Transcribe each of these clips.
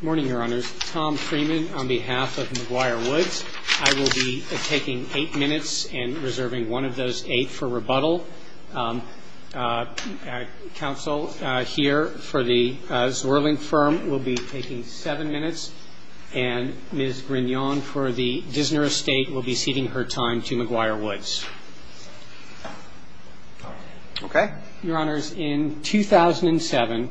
Good morning, Your Honors. Tom Freeman on behalf of McGuire Woods. I will be taking 8 minutes and reserving one of those 8 for rebuttal. Counsel here for the Zwirling firm will be taking 7 minutes. And Ms. Grignion for the Dissner Estate will be ceding her time to McGuire Woods. Your Honors, in 2007,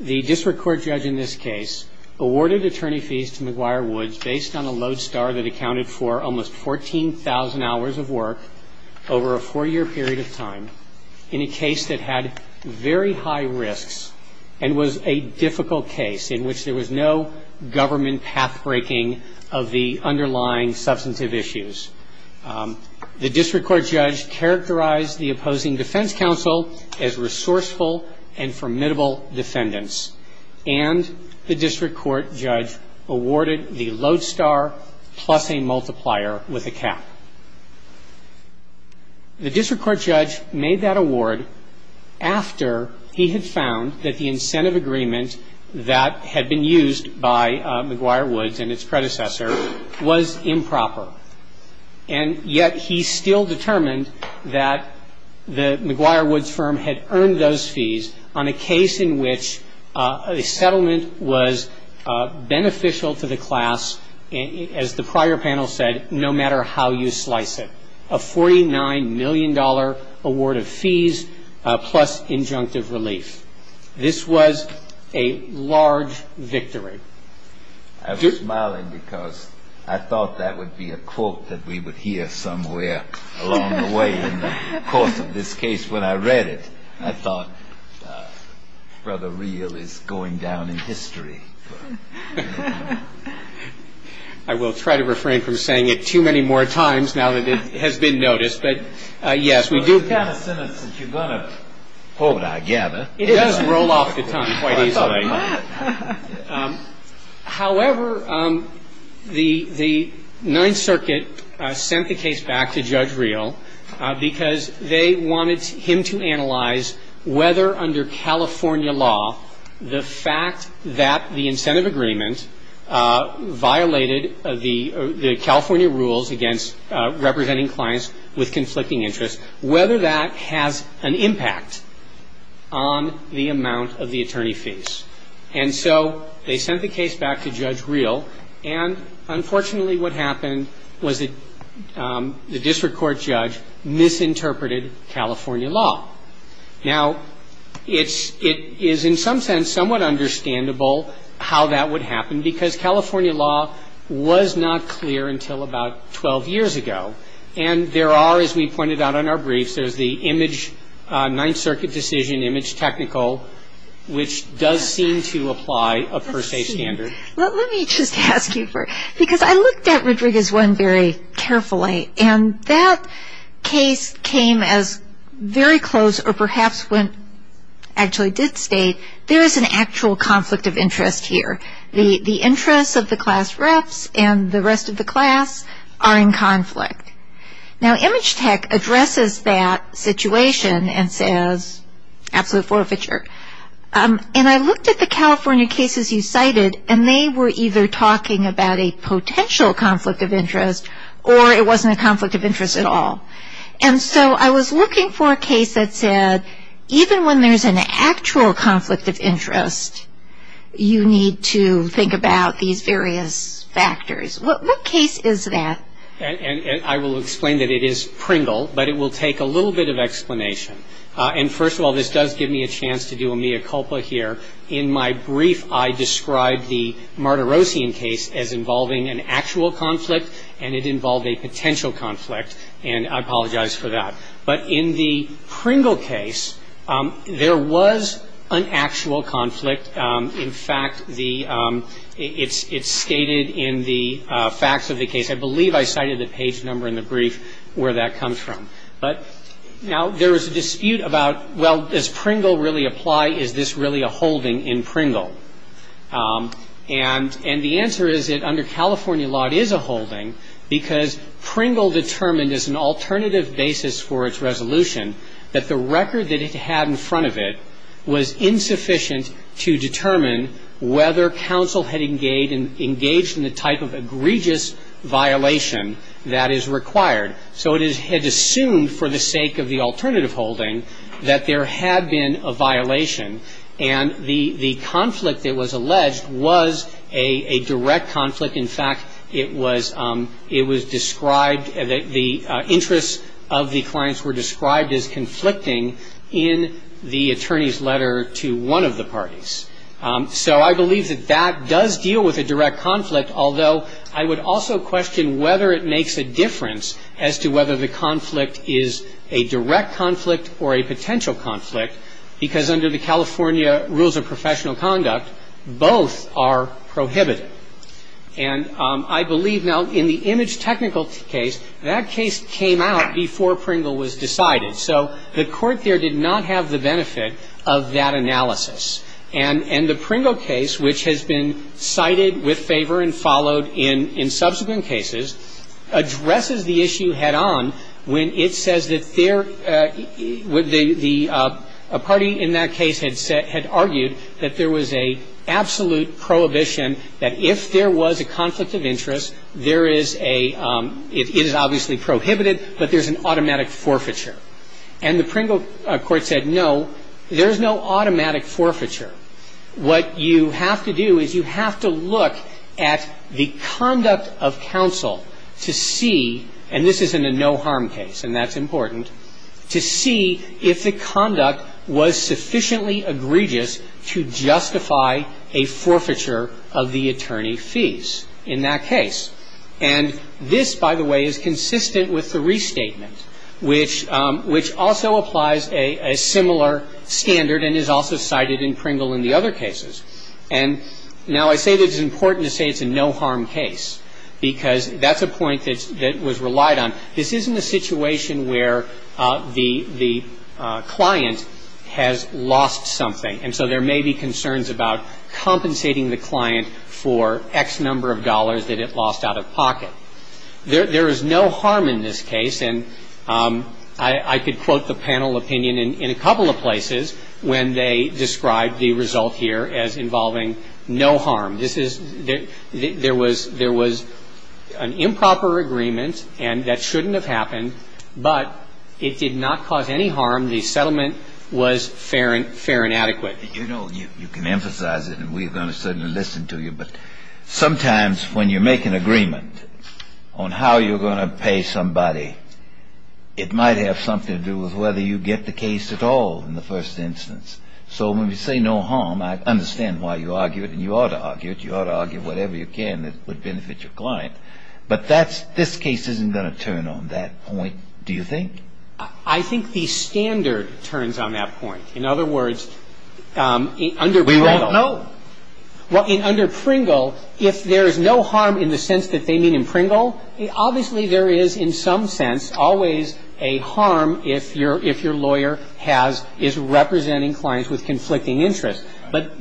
the district court judge in this case awarded attorney fees to McGuire Woods based on a Lowe star that accounted for almost 14,000 hours of work over a 4 year period of time. In a case that had very high risks and was a difficult case in which there was no government path breaking of the underlying substantive issues. The district court judge characterized the opposing defense counsel as resourceful and formidable defendants. And the district court judge awarded the Lowe star plus a multiplier with a cap. The district court judge made that award after he had found that the incentive agreement that had been used by McGuire Woods and his predecessor was improper. And yet he still determined that the McGuire Woods firm had earned those fees on a case in which a settlement was beneficial to the class, as the prior panel said, no matter how you slice it. A $49 million award of fees plus injunctive relief. This was a large victory. I'm smiling because I thought that would be a quote that we would hear somewhere along the way in the course of this case when I read it. I thought Brother Reel is going down in history. I will try to refrain from saying it too many more times now that it has been noticed. But yes, we do have a sentence that you're going to hold our gather. It doesn't roll off the tongue quite easily. However, the Ninth Circuit sent the case back to Judge Reel because they wanted him to analyze whether under California law, the fact that the incentive agreement violated the California rules against representing clients with conflicting interests, whether that has an impact on the amount of the attorney fees. And so they sent the case back to Judge Reel. And unfortunately what happened was the district court judge misinterpreted California law. Now, it is in some sense somewhat understandable how that would happen because California law was not clear until about 12 years ago. And there are, as we pointed out in our brief, there is the Ninth Circuit decision, image technical, which does seem to apply a per se standard. Let me just ask you first. Because I looked at Rodriguez-Wen very carefully. And that case came as very close or perhaps when it actually did state there is an actual conflict of interest here. The interest of the class reps and the rest of the class are in conflict. Now, Image Tech addresses that situation and says, after the forfeiture. And I looked at the California cases you cited and they were either talking about a potential conflict of interest or it wasn't a conflict of interest at all. And so I was looking for a case that said, even when there is an actual conflict of interest, you need to think about these various factors. What case is that? And I will explain that it is Pringle, but it will take a little bit of explanation. And first of all, this does give me a chance to do a mea culpa here. In my brief, I described the Martirosian case as involving an actual conflict and it involved a potential conflict. And I apologize for that. But in the Pringle case, there was an actual conflict. In fact, it is stated in the facts of the case. I believe I cited the page number in the brief where that comes from. But now there is a dispute about, well, does Pringle really apply? Is this really a holding in Pringle? And the answer is that under California law, it is a holding because Pringle determined as an alternative basis for its resolution that the record that it had in front of it was insufficient to determine whether counsel had engaged in the type of egregious violation that is required. So it had assumed for the sake of the alternative holding that there had been a violation. And the conflict that was alleged was a direct conflict. In fact, it was described, the interests of the clients were described as conflicting in the attorney's letter to one of the parties. So I believe that that does deal with a direct conflict, although I would also question whether it makes a difference as to whether the conflict is a direct conflict or a potential conflict. I do not think it is a direct conflict because under the California rules of professional conduct, both are prohibited. And I believe now in the image technical case, that case came out before Pringle was decided. So the court there did not have the benefit of that analysis. And the Pringle case, which has been cited with favor and followed in subsequent cases, addresses the issue head-on when it says that a party in that case had argued that there was an absolute prohibition that if there was a conflict of interest, it is obviously prohibited, but there is an automatic forfeiture. And the Pringle court said no, there is no automatic forfeiture. What you have to do is you have to look at the conduct of counsel to see, and this is in a no harm case, and that is important, to see if the conduct was sufficiently egregious to justify a forfeiture of the attorney's fees in that case. And this, by the way, is consistent with the restatement, which also applies a similar standard and is also cited in Pringle and the other cases. And now I say that it is important to say it is a no harm case, because that is a point that was relied on. This isn't a situation where the client has lost something. And so there may be concerns about compensating the client for X number of dollars that it lost out of pocket. There is no harm in this case, and I could quote the panel opinion in a couple of places when they described the result here as involving no harm. There was an improper agreement, and that shouldn't have happened, but it did not cause any harm. The settlement was fair and adequate. You know, you can emphasize it, and we're going to certainly listen to you, but sometimes when you make an agreement on how you're going to pay somebody, it might have something to do with whether you get the case at all in the first instance. So when we say no harm, I understand why you argue it, and you ought to argue it. You ought to argue whatever you can that would benefit your client. But this case isn't going to turn on that point, do you think? I think the standard turns on that point. In other words, under Pringle... We won't know. Under Pringle, if there is no harm in the sense that they mean in Pringle, obviously there is in some sense always a harm if your lawyer is representing clients with conflicting interests. But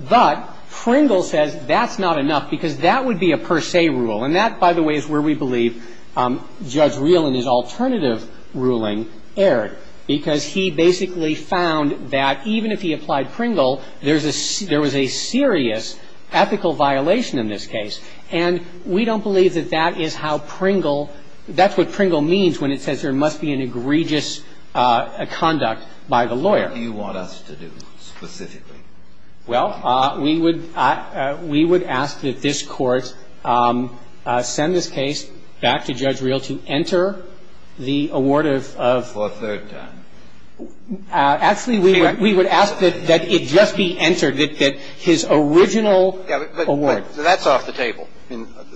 Pringle says that is not enough, because that would be a per se rule. And that, by the way, is where we believe Judge Reel in his alternative ruling erred, because he basically found that even if he applied Pringle, there was a serious ethical violation in this case. And we don't believe that that is how Pringle... That's what Pringle means when it says there must be an egregious conduct by the lawyer. What do you want us to do specifically? Well, we would ask that this Court send this case back to Judge Reel to enter the award of... For a third time. Actually, we would ask that it just be entered, that his original award... That's off the table.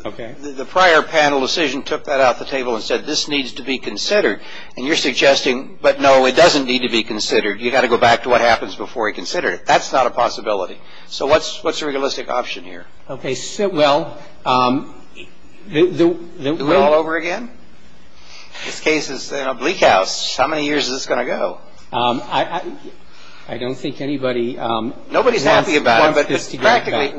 Okay. The prior panel decision took that off the table and said this needs to be considered. And you're suggesting, but no, it doesn't need to be considered. You've got to go back to what happens before you consider it. That's not a possibility. So what's your realistic option here? Okay, so, well... The rule all over again? The case is a bleak house. How many years is this going to go? I don't think anybody... Nobody's happy about it, but practically,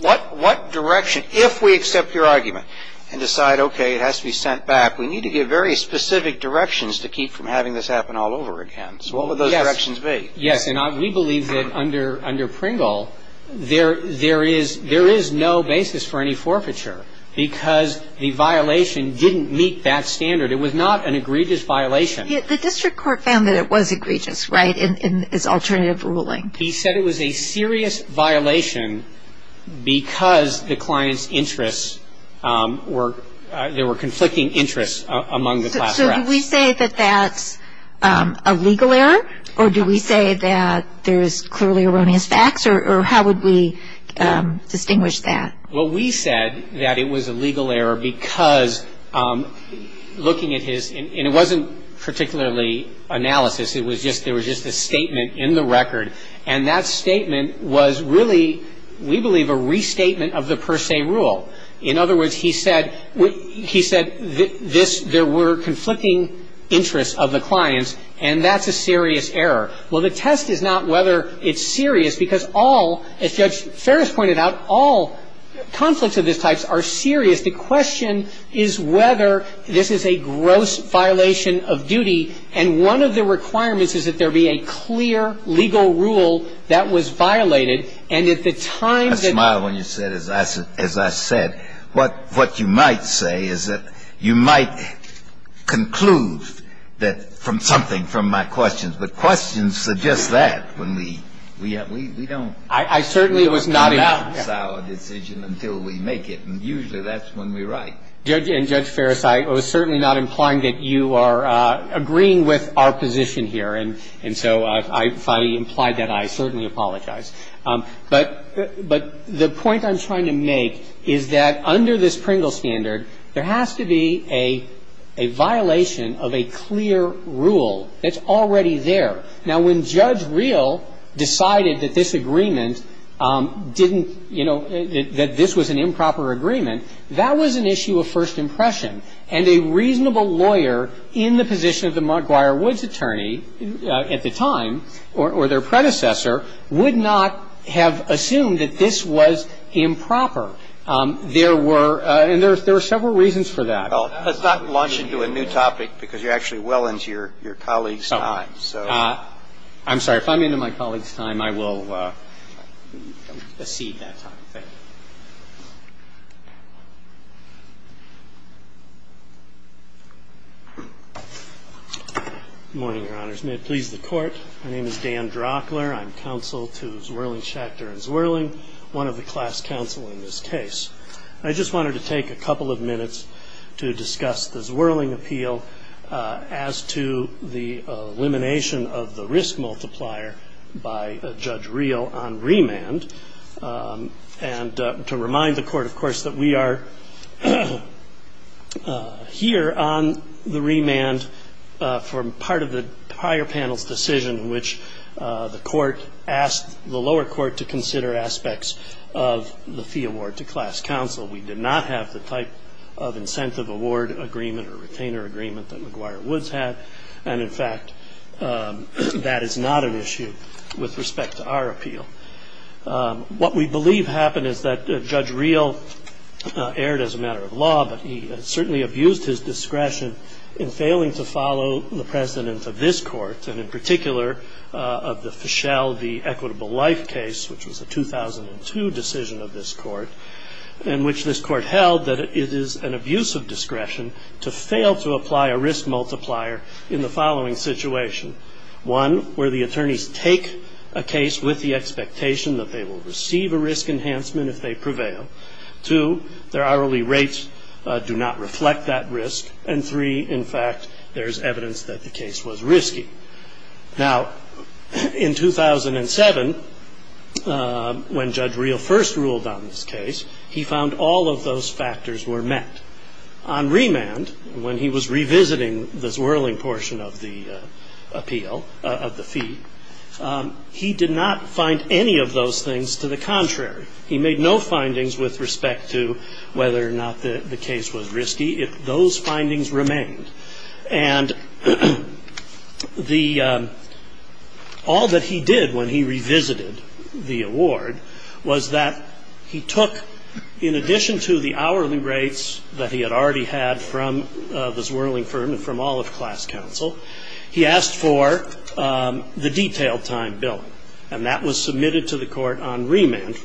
what direction, if we accept your argument and decide, okay, it has to be sent back, we need to give very specific directions to keep from having this happen all over again. So what would those directions be? Yes, and we believe that under Pringle, there is no basis for any forfeiture, because the violation didn't meet that standard. It was not an egregious violation. The district court found that it was egregious, right, in its alternative ruling. He said it was a serious violation because the client's interests were... There were conflicting interests among the class. So do we say that that's a legal error, or do we say that there's clearly erroneous facts, or how would we distinguish that? Well, we said that it was a legal error because looking at his... And it wasn't particularly analysis. It was just... There was just a statement in the record, and that statement was really, we believe, a restatement of the per se rule. In other words, he said there were conflicting interests of the clients, and that's a serious error. Well, the test is not whether it's serious, because all, as Judge Ferris pointed out, all conflicts of this type are serious. The question is whether this is a gross violation of duty, and one of the requirements is that there be a clear legal rule that was violated, and at the time... Judge Miles, when you said, as I said, what you might say is that you might conclude that from something from my questions, but questions suggest that when we don't... I certainly was not... ...about our decision until we make it, and usually that's when we write. Judge, and Judge Ferris, I was certainly not implying that you are agreeing with our position here, and so I finally implied that I certainly apologize. But the point I'm trying to make is that under this Pringles standard, there has to be a violation of a clear rule that's already there. Now, when Judge Real decided that this agreement didn't, you know, that this was an improper agreement, that was an issue of first impression, and a reasonable lawyer in the position of the McGuire-Woods attorney at the time, or their predecessor, would not have assumed that this was improper. There were... and there were several reasons for that. It's not launching into a new topic, because you're actually well into your colleague's time, so... I'm sorry. If I'm into my colleague's time, I will proceed that time. Good morning, Your Honors. May it please the Court. My name is Dan Drockler. I'm counsel to Zwirling Schachter and Zwirling, one of the class counsel in this case. I just wanted to take a couple of minutes to discuss the Zwirling appeal as to the elimination of the risk multiplier by Judge Real on remand, and to remind the Court, of course, that we are here on the remand for part of the prior panel's decision, which the Court asked the lower court to consider aspects of the fee award to class counsel. We did not have the type of incentive award agreement or retainer agreement that McGuire-Woods had, and, in fact, that is not an issue with respect to our appeal. What we believe happened is that Judge Real erred as a matter of law, but he certainly abused his discretion in failing to follow the precedence of this Court, and in particular of the Fischel v. Equitable Life case, which was a 2002 decision of this Court, in which this Court held that it is an abuse of discretion to fail to apply a risk multiplier in the following situation. One, where the attorneys take a case with the expectation that they will receive a risk enhancement if they prevail. Two, their hourly rates do not reflect that risk. And three, in fact, there is evidence that the case was risky. Now, in 2007, when Judge Real first ruled on this case, he found all of those factors were met. On remand, when he was revisiting the swirling portion of the appeal, of the fee, he did not find any of those things to the contrary. He made no findings with respect to whether or not the case was risky. Those findings remained. And all that he did when he revisited the award was that he took, in addition to the hourly rates that he had already had from the swirling firm and from all of the class counsel, he asked for the detailed time bill. And that was submitted to the Court on remand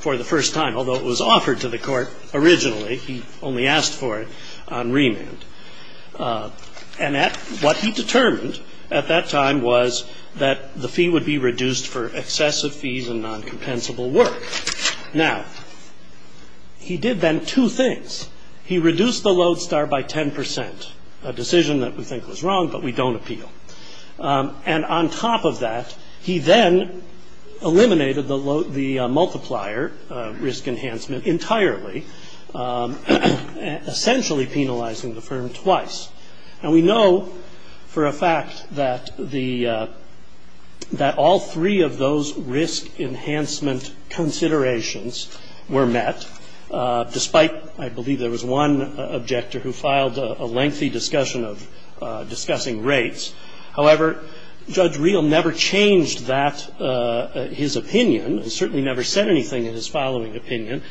for the first time, although it was offered to the Court originally. He only asked for it on remand. And what he determined at that time was that the fee would be reduced for excessive fees and non-compensable work. Now, he did then two things. He reduced the load star by 10 percent, a decision that we think was wrong but we don't appeal. And on top of that, he then eliminated the multiplier risk enhancement entirely, essentially penalizing the firm twice. And we know for a fact that all three of those risk enhancement considerations were met, despite, I believe there was one objector who filed a lengthy discussion of discussing rates. However, Judge Reel never changed that, his opinion. He certainly never said anything in his following opinion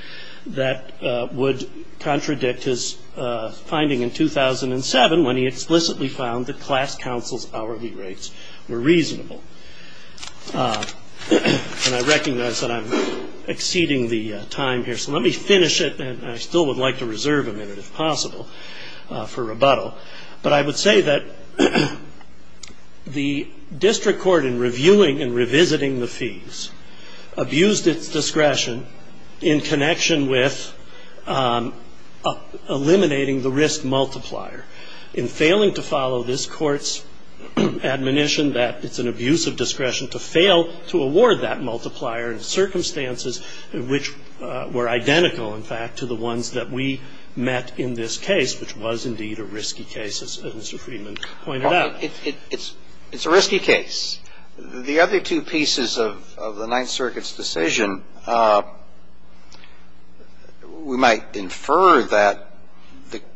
that would contradict his finding in 2007, when he explicitly found that class counsel's hourly rates were reasonable. And I recognize that I'm exceeding the time here. So let me finish it, and I still would like to reserve a minute, if possible, for rebuttal. But I would say that the District Court, in reviewing and revisiting the fees, abused its discretion in connection with eliminating the risk multiplier. In failing to follow this Court's admonition that it's an abuse of discretion to fail to award that multiplier in circumstances which were identical, in fact, to the ones that we met in this case, which was indeed a risky case, as Mr. Friedman pointed out. It's a risky case. The other two pieces of the Ninth Circuit's decision, we might infer that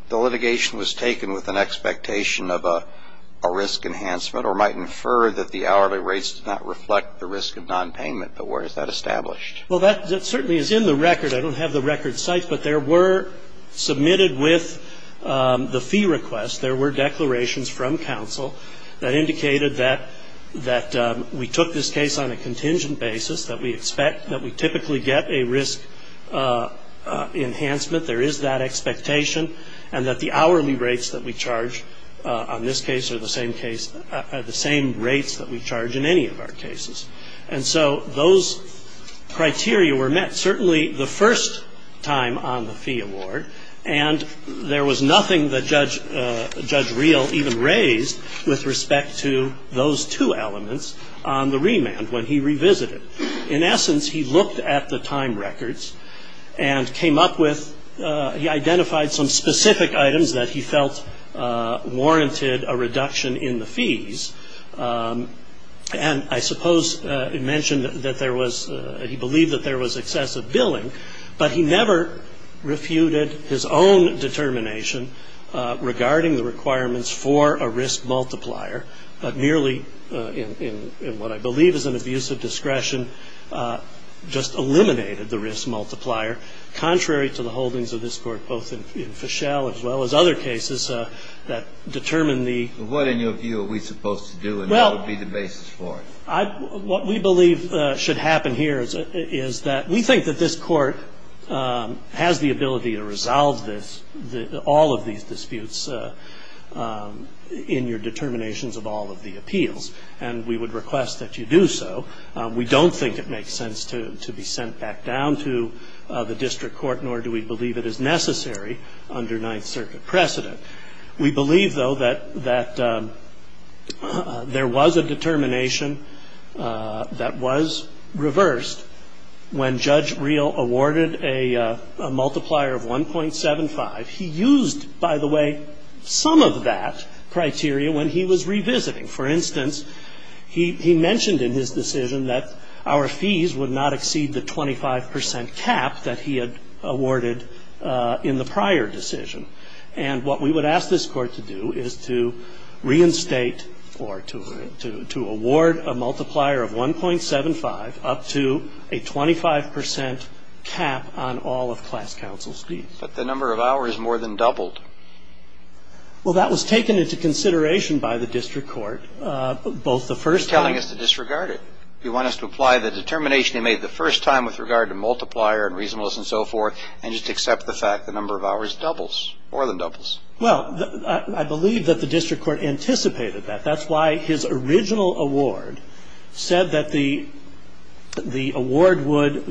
the litigation was taken with an expectation of a risk enhancement, or might infer that the hourly rates did not reflect the risk of nonpayment. But where is that established? Well, that certainly is in the record. I don't have the record in sight, but there were submitted with the fee request, there were declarations from counsel that indicated that we took this case on a contingent basis, that we expect that we typically get a risk enhancement, there is that expectation, and that the hourly rates that we charge on this case are the same rates that we charge in any of our cases. And so those criteria were met certainly the first time on the fee award, and there was nothing that Judge Reel even raised with respect to those two elements on the remand when he revisited. In essence, he looked at the time records and came up with, he identified some specific items that he felt warranted a reduction in the fees, and I suppose he mentioned that there was, he believed that there was excessive billing, but he never refuted his own determination regarding the requirements for a risk multiplier, but merely in what I believe is an abuse of discretion, just eliminated the risk multiplier, contrary to the holdings of this Court both in Fischel as well as other cases that determine the... What, in your view, are we supposed to do, and what would be the basis for it? What we believe should happen here is that we think that this Court has the ability to resolve this, all of these disputes in your determinations of all of the appeals, and we would request that you do so. We don't think it makes sense to be sent back down to the district court, nor do we believe it is necessary under Ninth Circuit precedent. We believe, though, that there was a determination that was reversed when Judge Reel awarded a multiplier of 1.75. He used, by the way, some of that criteria when he was revisiting. For instance, he mentioned in his decision that our fees would not exceed the 25 percent cap that he had awarded in the prior decision, and what we would ask this Court to do is to reinstate or to award a multiplier of 1.75 up to a 25 percent cap on all of class counsel's fees. But the number of hours more than doubled. Well, that was taken into consideration by the district court both the first time... You're telling us to disregard it. You want us to apply the determination they made the first time with regard to multiplier and reasonableness and so forth and just accept the fact the number of hours doubles, more than doubles. Well, I believe that the district court anticipated that. That's why his original award said that the award would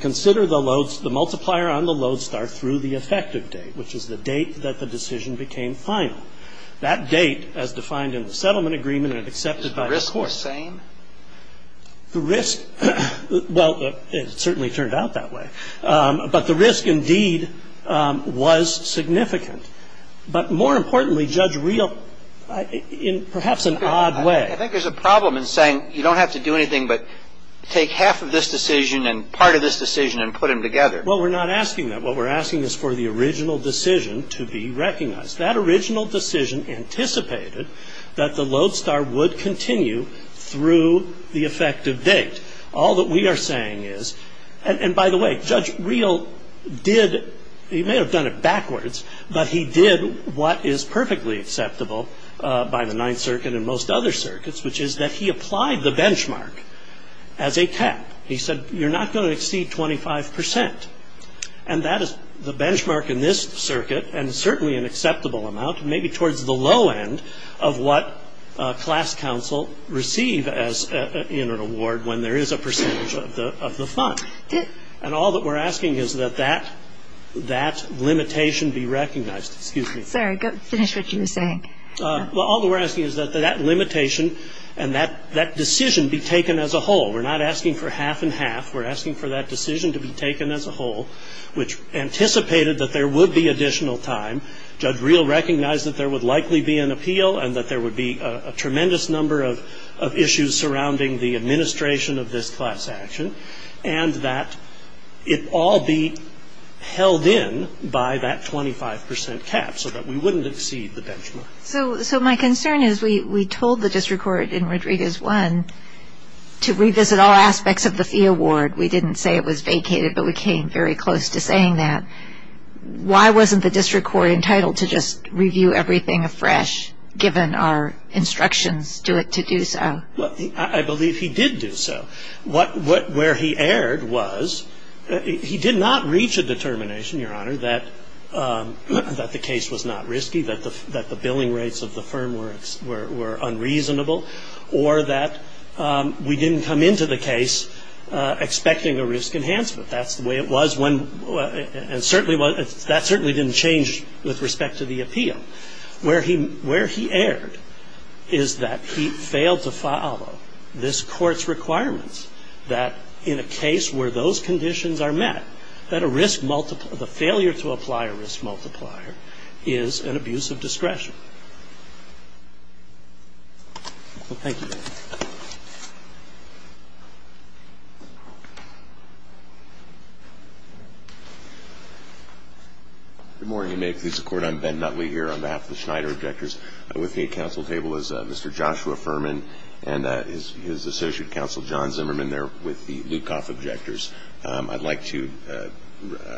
consider the multiplier on the Lodestar through the effective date, which is the date that the decision became final. That date, as defined in the settlement agreement and accepted by the court... The risk was the same? The risk... Well, it certainly turned out that way. But the risk, indeed, was significant. But more importantly, Judge Reel, in perhaps an odd way... I think there's a problem in saying you don't have to do anything but take half of this decision and part of this decision and put them together. Well, we're not asking that. What we're asking is for the original decision to be recognized. That original decision anticipated that the Lodestar would continue through the effective date. All that we are saying is... And by the way, Judge Reel did... He may have done it backwards, but he did what is perfectly acceptable by the Ninth Circuit and most other circuits, which is that he applied the benchmark as a test. He said, you're not going to exceed 25%. And that is the benchmark in this circuit, and certainly an acceptable amount, maybe towards the low end of what class counsel receive in an award when there is a percentage of the funds. And all that we're asking is that that limitation be recognized. Sorry, finish what you were saying. Well, all that we're asking is that that limitation and that decision be taken as a whole. We're not asking for half and half. We're asking for that decision to be taken as a whole, which anticipated that there would be additional time. Judge Reel recognized that there would likely be an appeal and that there would be a tremendous number of issues surrounding the administration of this class action, and that it all be held in by that 25% cap so that we wouldn't exceed the benchmark. So my concern is we told the district court in Rodriguez 1 to revisit all aspects of the fee award. We didn't say it was vacated, but we came very close to saying that. Why wasn't the district court entitled to just review everything afresh given our instructions to do so? Well, I believe he did do so. Where he erred was he did not reach a determination, Your Honor, that the case was not risky, that the billing rates of the firm were unreasonable, or that we didn't come into the case expecting a risk enhancement. That's the way it was, and that certainly didn't change with respect to the appeal. Where he erred is that he failed to follow this court's requirements that in a case where those conditions are met, that a failure to apply a risk multiplier is an abuse of discretion. Thank you, Your Honor. Good morning, Your Honor. This is the court. I'm Ben Nutley here on behalf of the Schneider Objectors. With me at counsel's table is Mr. Joshua Furman and his associate counsel, John Zimmerman. They're with the Lukoff Objectors. I'd like to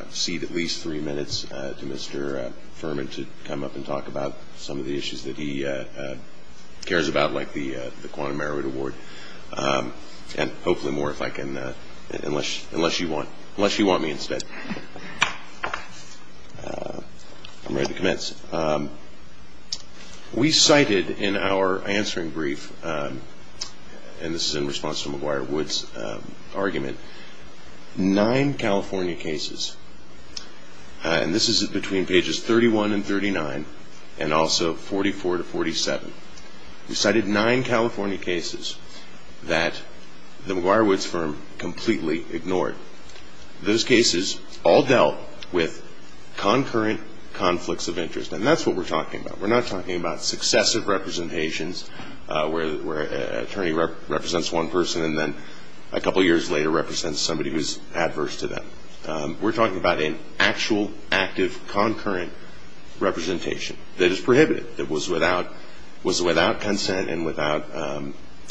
cede at least three minutes to Mr. Furman to come up and talk about some of the issues that he cares about, like the quantum merit award, and hopefully more if I can, unless you want me instead. We cited in our answering brief, and this is in response to McGuire-Woods' argument, nine California cases, and this is between pages 31 and 39, and also 44 to 47. We cited nine California cases that the McGuire-Woods firm completely ignored. Those cases all dealt with concurrent conflicts of interest, and that's what we're talking about. We're not talking about successive representations where an attorney represents one person and then a couple years later represents somebody who's adverse to them. We're talking about an actual, active, concurrent representation that is prohibited, that was without consent and without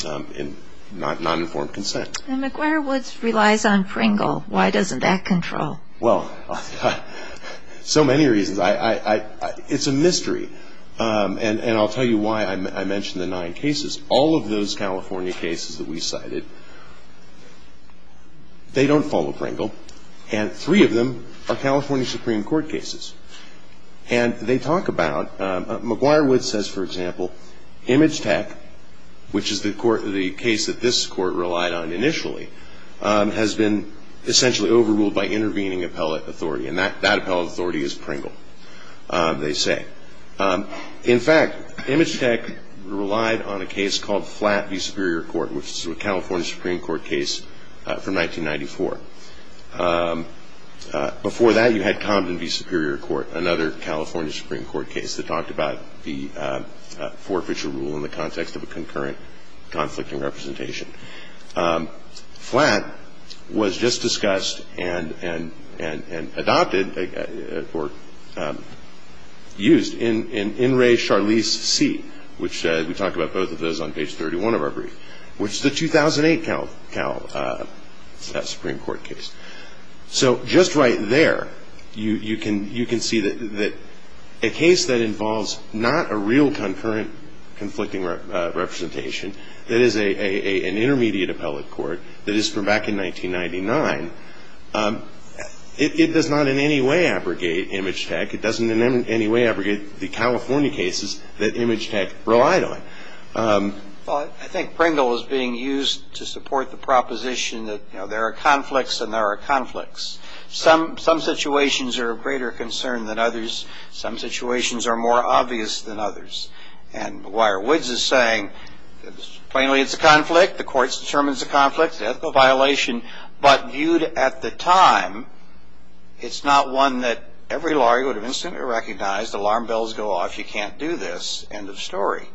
non-informed consent. McGuire-Woods relies on Pringle. Why doesn't that control? Well, so many reasons. It's a mystery, and I'll tell you why I mentioned the nine cases. All of those California cases that we cited, they don't follow Pringle, and three of them are California Supreme Court cases. And they talk about, McGuire-Woods says, for example, Image Tech, which is the case that this court relied on initially, has been essentially overruled by intervening appellate authority, and that appellate authority is Pringle, they say. In fact, Image Tech relied on a case called Flat v. Superior Court, which is a California Supreme Court case from 1994. Before that, you had Comden v. Superior Court, another California Supreme Court case that talked about the forfeiture rule in the context of a concurrent conflicting representation. Flat was just discussed and adopted or used in In Re Charlisse C, which we talked about both of those on page 31 of our brief, which is the 2008 Cal Supreme Court case. So just right there, you can see that a case that involves not a real concurrent conflicting representation, that is an intermediate appellate court that is from back in 1999, it does not in any way abrogate Image Tech. It doesn't in any way abrogate the California cases that Image Tech relied on. Well, I think Pringle is being used to support the proposition that there are conflicts and there are conflicts. Some situations are of greater concern than others. Some situations are more obvious than others. McGuire-Woods is saying plainly it's a conflict. The court's determined it's a conflict, that's a violation. But viewed at the time, it's not one that every lawyer would have instantly recognized. Alarm bells go off. You can't do this. End of story.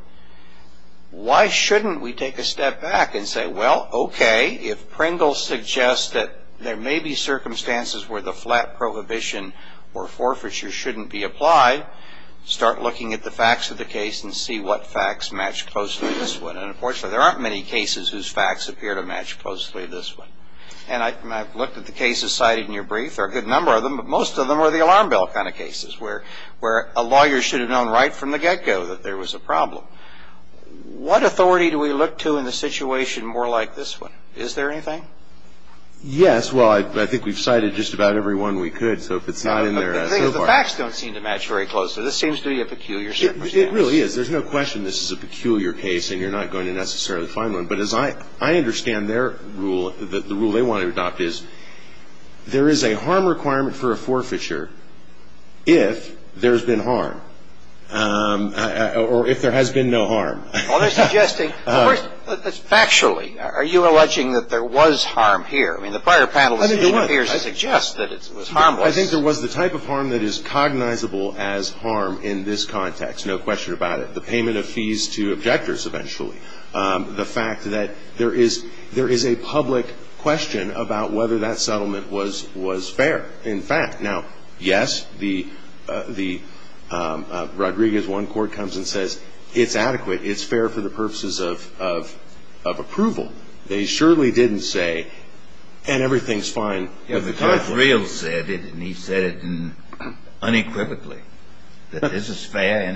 Why shouldn't we take a step back and say, well, okay, if Pringle suggests that there may be circumstances where the flat prohibition or forfeiture shouldn't be applied, start looking at the facts of the case and see what facts match closely to this one. Unfortunately, there aren't many cases whose facts appear to match closely to this one. And I've looked at the cases cited in your brief. There are a good number of them, but most of them are the alarm bell kind of cases where a lawyer should have known right from the get-go that there was a problem. What authority do we look to in a situation more like this one? Is there anything? Yes. Well, I think we've cited just about every one we could. The facts don't seem to match very closely. This seems to be a peculiar circumstance. It really is. There's no question this is a peculiar case, and you're not going to necessarily find one. But as I understand their rule, the rule they want to adopt is there is a harm requirement for a forfeiture if there's been harm or if there has been no harm. Well, they're suggesting, but first, factually, are you alleging that there was harm here? I mean, the prior panelists seem to suggest that it was harmless. I think there was the type of harm that is cognizable as harm in this context. There's no question about it. The payment of fees to objectors, eventually. The fact that there is a public question about whether that settlement was fair, in fact. Now, yes, Rodriguez 1 court comes and says it's adequate. It's fair for the purposes of approval. They surely didn't say, and everything's fine. He said it unequivocally, that this is fair,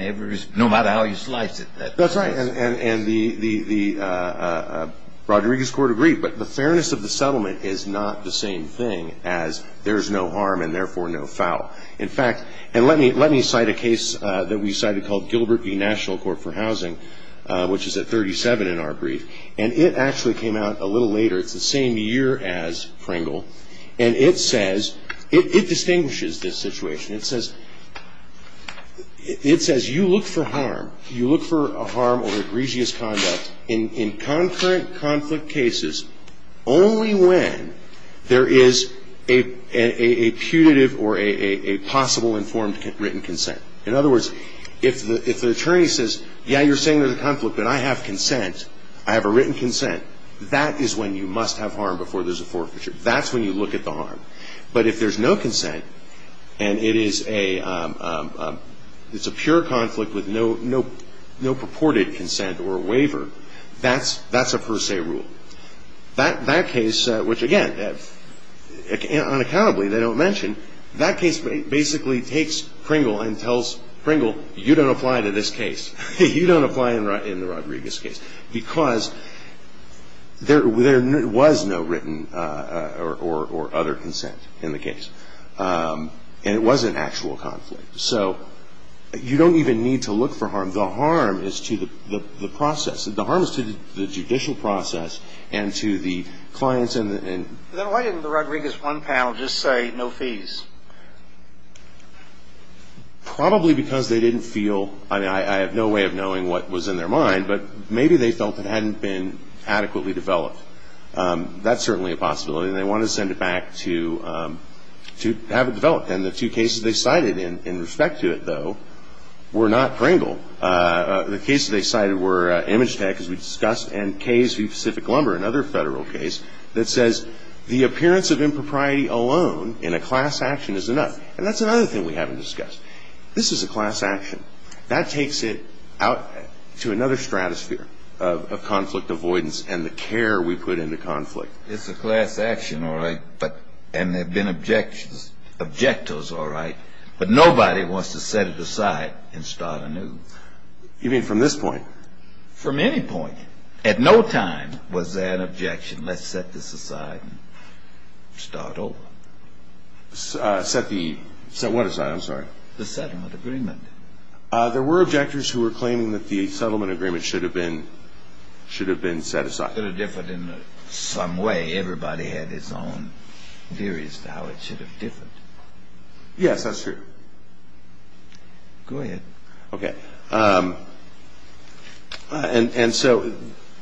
no matter how you slice it. That's right, and the Rodriguez court agreed. But the fairness of the settlement is not the same thing as there's no harm and therefore no foul. In fact, let me cite a case that we cited called Gilbert v. National Court for Housing, which is at 37 in our brief. And it actually came out a little later, the same year as Pringle. And it says, it distinguishes this situation. It says, you look for harm. You look for harm or egregious conduct in concurrent conflict cases only when there is a punitive or a possible informed written consent. In other words, if the attorney says, yeah, you're saying there's a conflict, but I have consent. I have a written consent. That is when you must have harm before there's a forfeiture. That's when you look at the harm. But if there's no consent and it is a pure conflict with no purported consent or waiver, that's a per se rule. That case, which again, unaccountably they don't mention, that case basically takes Pringle and tells Pringle, you don't apply to this case. You don't apply in the Rodriguez case. Because there was no written or other consent in the case. And it was an actual conflict. So you don't even need to look for harm. The harm is to the process. The harm is to the judicial process and to the clients. Then why didn't the Rodriguez one panel just say no fees? Probably because they didn't feel, I have no way of knowing what was in their mind, but maybe they felt it hadn't been adequately developed. That's certainly a possibility. And they wanted to send it back to have it developed. And the two cases they cited in respect to it, though, were not Pringle. The cases they cited were Image Tech, as we discussed, and Case v. Pacific Lumber, another federal case, that says the appearance of impropriety alone in a class action is enough. And that's another thing we haven't discussed. This is a class action. That takes it out to another stratosphere of conflict avoidance and the care we put into conflict. It's a class action, all right, and there have been objections. Objectors, all right, but nobody wants to set it aside and start anew. You mean from this point? From any point. At no time was there an objection, let's set this aside and start over. Set the what aside? The settlement agreement. There were objectors who were claiming that the settlement agreement should have been set aside. It's not going to differ in some way. Everybody had his own theories about how it should have differed. Yes, that's true. Go ahead. Okay. And so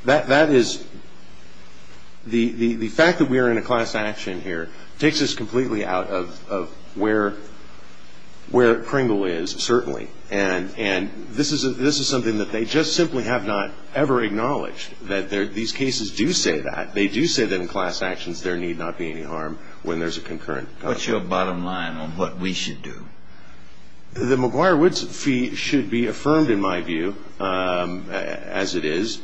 that is the fact that we are in a class action here takes us completely out of where Pringle is, certainly. And this is something that they just simply have not ever acknowledged, that these cases do say that. They do say that in class actions there need not be any harm when there's a concurrent. What's your bottom line on what we should do? The McGuire-Woods fee should be affirmed, in my view, as it is.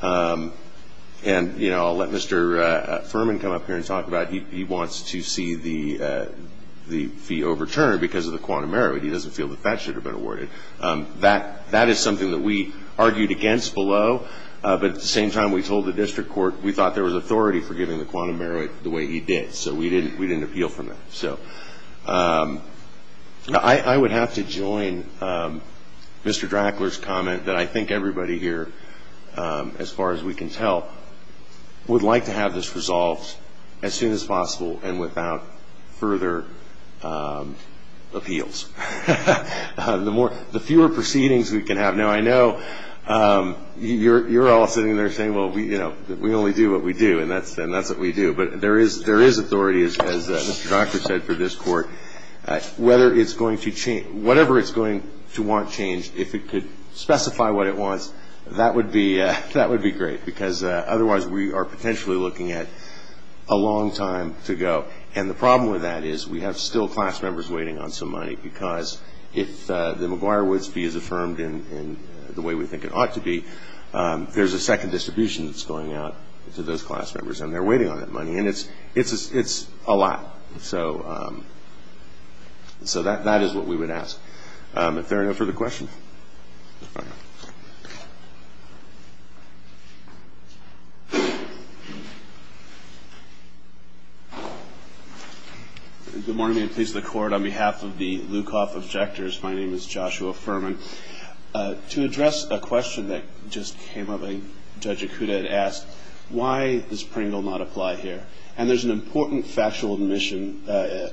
And, you know, I'll let Mr. Furman come up here and talk about it. He wants to see the fee overturned because of the quantum merit. He doesn't feel that that should have been awarded. That is something that we argued against below. But at the same time, we told the district court we thought there was authority for giving the quantum merit the way he did. So we didn't appeal for that. So I would have to join Mr. Drackler's comment that I think everybody here, as far as we can tell, would like to have this resolved as soon as possible and without further appeals. The fewer proceedings we can have. Now, I know you're all sitting there saying, well, we only do what we do, and that's what we do. But there is authority, as Mr. Drackler said, for this court. Whatever it's going to want changed, if it could specify what it wants, that would be great, because otherwise we are potentially looking at a long time to go. And the problem with that is we have still class members waiting on some money because if the McGuire-Woods fee is affirmed in the way we think it ought to be, there's a second distribution that's going out to those class members, and they're waiting on that money. And it's a lot. So that is what we would ask. If there are no further questions. Good morning to the court. On behalf of the Lukoff Objectors, my name is Joshua Furman. To address a question that just came up, Judge Acuda asked, why does Pringle not apply here? And there's an important factual omission that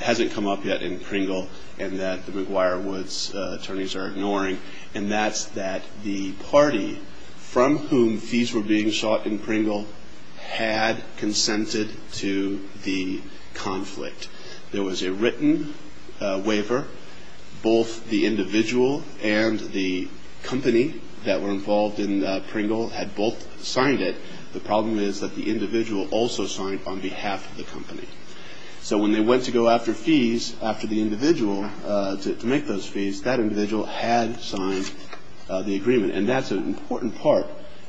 hasn't come up yet in Pringle and that the McGuire-Woods attorneys are ignoring, and that's that the party from whom fees were being sought in Pringle had consented to the conflict. There was a written waiver. Both the individual and the company that were involved in Pringle had both signed it. The problem is that the individual also signed on behalf of the company. So when they went to go after fees after the individual to make those fees, that individual had signed the agreement, and that's an important part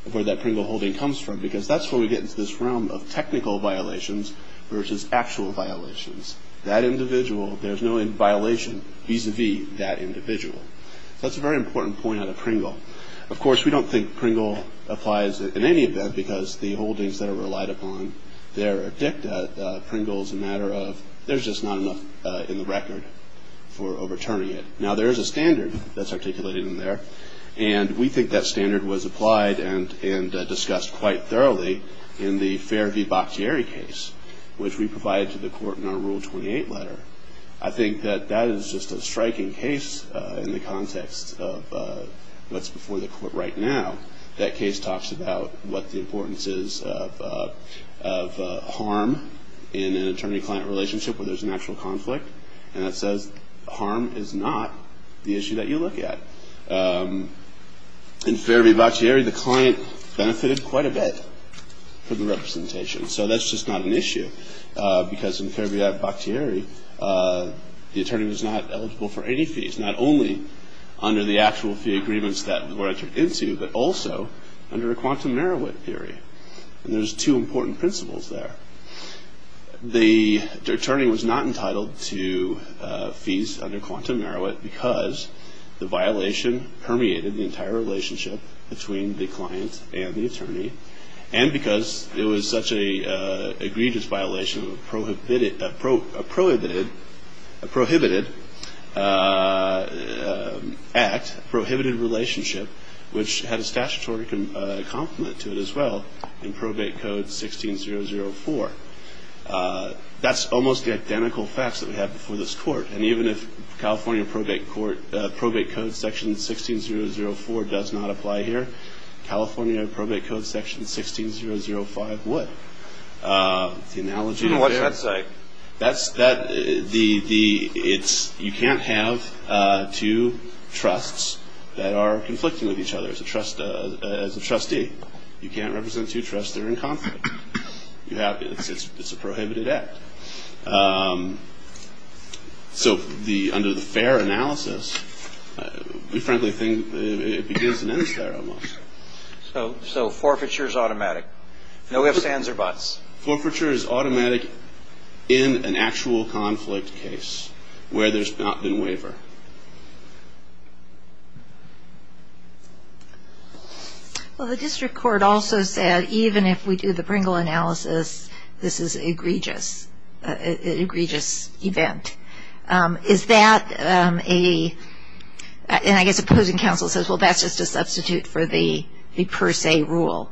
of where that Pringle holding comes from because that's where we get into this realm of technical violations versus actual violations. That individual, there's no violation vis-a-vis that individual. That's a very important point out of Pringle. Of course, we don't think Pringle applies in any event because the holdings that are relied upon there are thick. Pringle is a matter of there's just not enough in the record for overturning it. Now, there is a standard that's articulated in there, and we think that standard was applied and discussed quite thoroughly in the Fair v. Boccieri case, which we provided to the court in our Rule 28 letter. I think that that is just a striking case in the context of what's before the court right now. That case talks about what the importance is of harm in an attorney-client relationship where there's a natural conflict, and it says harm is not the issue that you look at. In Fair v. Boccieri, the client benefited quite a bit from the representation, so that's just not an issue because in Fair v. Boccieri, the attorney was not eligible for any fees, not only under the actual fee agreements that were entered into, but also under a quantum Merowith theory, and there's two important principles there. The attorney was not entitled to fees under quantum Merowith because the violation permeated the entire relationship between the client and the attorney, and because it was such an egregious violation of a prohibited act, a prohibited relationship, which had a statutory complement to it as well in Probate Code 16-004. That's almost the identical facts that we have before this court, and even if California Probate Code Section 16-004 does not apply here, California Probate Code Section 16-005 would. What does that say? You can't have two trusts that are conflicting with each other as a trustee. You can't represent two trusts that are in conflict. It's a prohibited act. So under the Fair analysis, we frankly think it begins in any Fair almost. So forfeiture is automatic. No ifs, ands, or buts. Forfeiture is automatic in an actual conflict case where there's not been waiver. Well, the district court also said even if we do the Pringle analysis, this is an egregious event. Is that a, and I guess the closing counsel says, well, that's just a substitute for the per se rule.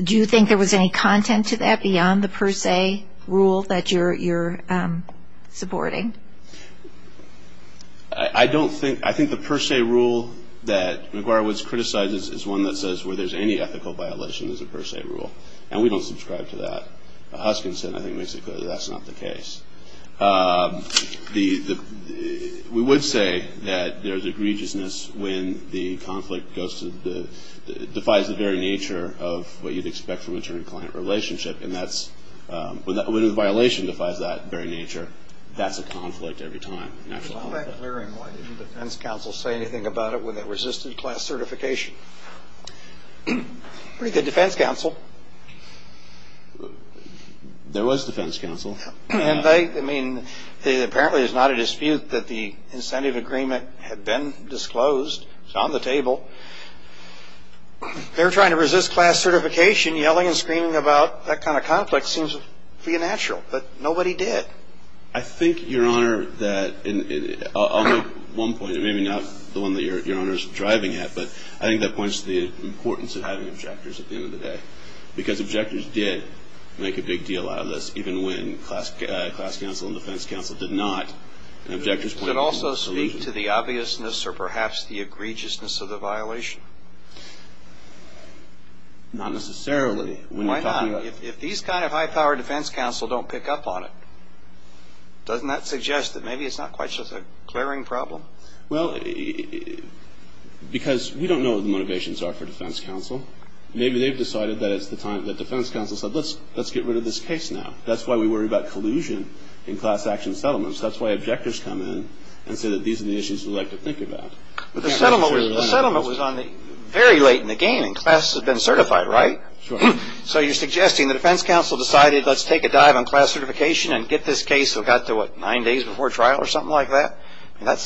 Do you think there was any content to that beyond the per se rule that you're supporting? I don't think, I think the per se rule that McGuire-Woods criticizes is one that says where there's any ethical violation is a per se rule, and we don't subscribe to that. Huskinson, I think, makes it clear that that's not the case. We would say that there's egregiousness when the conflict goes to the, defies the very nature of what you'd expect from an attorney-client relationship, and that's, when the violation defies that very nature, that's a conflict every time. I'll back up very much. Did the defense counsel say anything about it when they resisted class certification? The defense counsel? There was defense counsel. And they, I mean, apparently there's not a dispute that the incentive agreement had been disclosed. It's on the table. They were trying to resist class certification. Yelling and screaming about that kind of conflict seems to be a natural, but nobody did. I think, Your Honor, that, I'll make one point. Maybe not the one that Your Honor's driving at, but I think that points to the importance of having objectors at the end of the day, because objectors did make a big deal out of this, even when class counsel and defense counsel did not. And objectors pointed to the solution. Does it also speak to the obviousness or perhaps the egregiousness of the violation? Not necessarily. Why not? If these kind of high-powered defense counsel don't pick up on it, doesn't that suggest that maybe it's not quite just a clearing problem? Well, because we don't know what the motivations are for defense counsel. Maybe they've decided that it's the time that defense counsel said, let's get rid of this case now. That's why we worry about collusion in class action settlements. That's why objectors come in and say that these are the issues we'd like to think about. But the settlement was done very late in the game. Classes had been certified, right? Sure. So you're suggesting the defense counsel decided, let's take a dive on class certification and get this case, we've got to, what, nine days before trial or something like that? Well,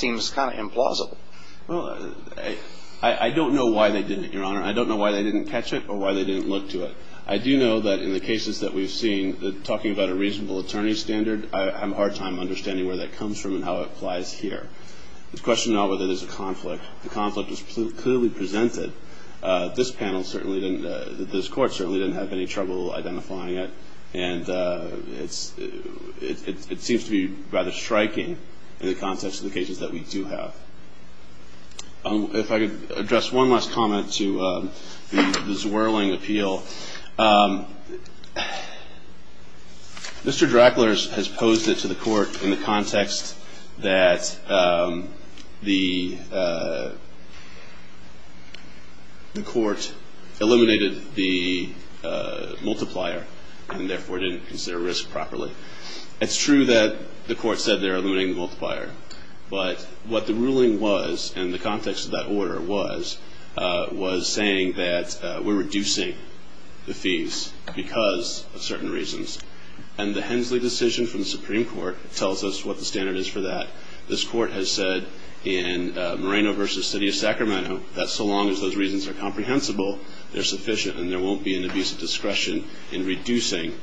I don't know why they did it, Your Honor. I don't know why they didn't catch it or why they didn't look to it. I do know that in the cases that we've seen, talking about a reasonable attorney standard, I have a hard time understanding where that comes from and how it applies here. It's a question now whether there's a conflict. The conflict was clearly presented. This panel certainly didn't, this court certainly didn't have any trouble identifying it. And it seems to be rather striking in the context of the cases that we do have. If I could address one last comment to the swirling appeal. Mr. Drackler has posed it to the court in the context that the court eliminated the multiplier and therefore didn't consider risk properly. It's true that the court said they're eliminating the multiplier. But what the ruling was, and the context of that order was, was saying that we're reducing the fees because of certain reasons. And the Hensley decision from the Supreme Court tells us what the standard is for that. This court has said in Moreno v. City of Sacramento that so long as those reasons are comprehensible, they're sufficient and there won't be an abuse of discretion in reducing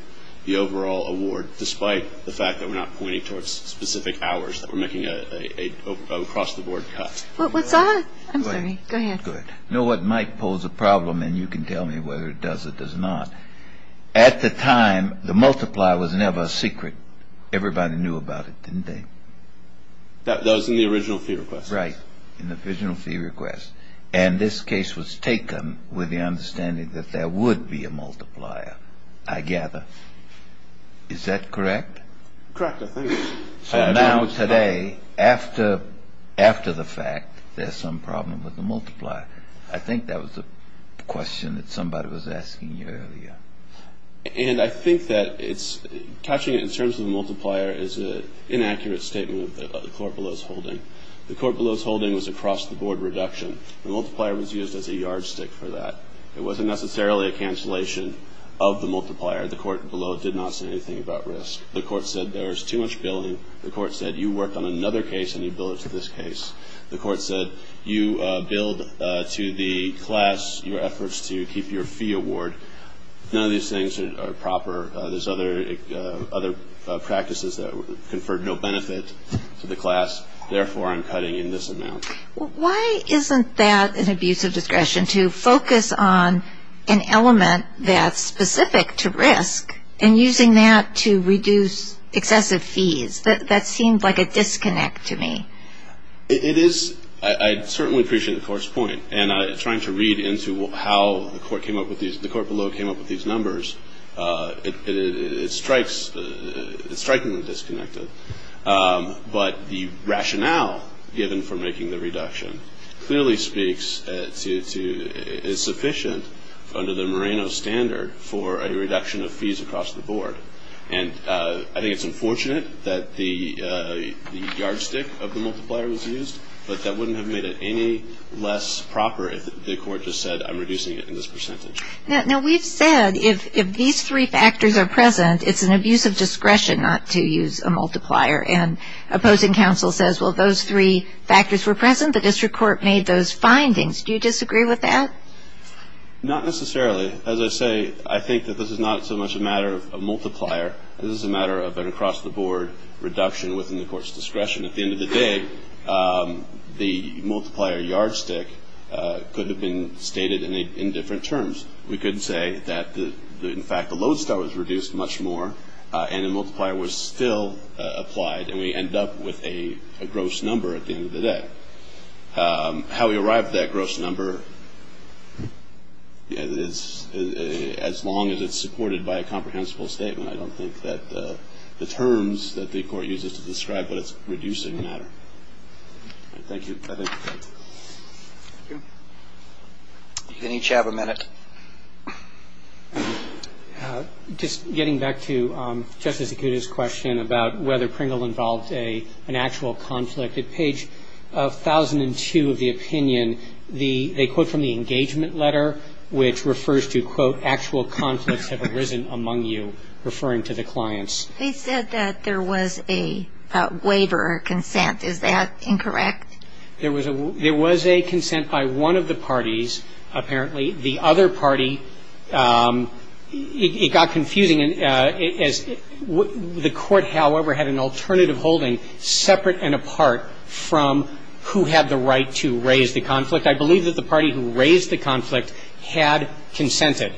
the overall award, despite the fact that we're not pointing towards specific hours that we're making an across-the-board cut. What was that? I'm sorry. Go ahead. You know what might pose a problem, and you can tell me whether it does or does not. At the time, the multiplier was never a secret. Everybody knew about it, didn't they? That was in the original fee request. Right, in the original fee request. And this case was taken with the understanding that there would be a multiplier, I gather. Is that correct? Correct, I believe so. Now, today, after the fact, there's some problem with the multiplier. I think that was the question that somebody was asking you earlier. And I think that touching it in terms of the multiplier is an inaccurate statement of the court below's holding. The court below's holding was a cross-the-board reduction. The multiplier was used as a yardstick for that. It wasn't necessarily a cancellation of the multiplier. The court below did not say anything about risk. The court said there's too much billing. The court said you worked on another case, and you billed it to this case. The court said you billed to the class your efforts to keep your fee award. None of these things are proper. There's other practices that conferred no benefit to the class. Therefore, I'm cutting in this amount. Why isn't that an abuse of discretion to focus on an element that's specific to risk and using that to reduce excessive fees? That seems like a disconnect to me. It is. I certainly appreciate the court's point. And trying to read into how the court below came up with these numbers, it strikes a disconnect. But the rationale given for making the reduction clearly speaks to it's sufficient under the Moreno standard for a reduction of fees across the board. And I think it's unfortunate that the yardstick of the multiplier was used, but that wouldn't have made it any less proper if the court just said I'm reducing it in this percentage. Now, we've said if these three factors are present, it's an abuse of discretion not to use a multiplier. And opposing counsel says, well, those three factors were present. The district court made those findings. Do you disagree with that? Not necessarily. As I say, I think that this is not so much a matter of multiplier. This is a matter of an across-the-board reduction within the court's discretion. At the end of the day, the multiplier yardstick could have been stated in different terms. We could say that, in fact, the Lodestar was reduced much more and the multiplier was still applied, and we end up with a gross number at the end of the day. How we arrived at that gross number, as long as it's supported by a comprehensible statement, I don't think that the terms that the court uses to describe it is reducing the matter. Thank you. You can each have a minute. Just getting back to Justice Acuda's question about whether Pringle involves an actual conflict, at page 1002 of the opinion, they quote from the engagement letter, which refers to, quote, referring to the clients. They said that there was a waiver or consent. Is that incorrect? There was a consent by one of the parties, apparently. The other party, it got confusing. The court, however, had an alternative holding separate and apart from who had the right to raise the conflict. I believe that the party who raised the conflict had consented,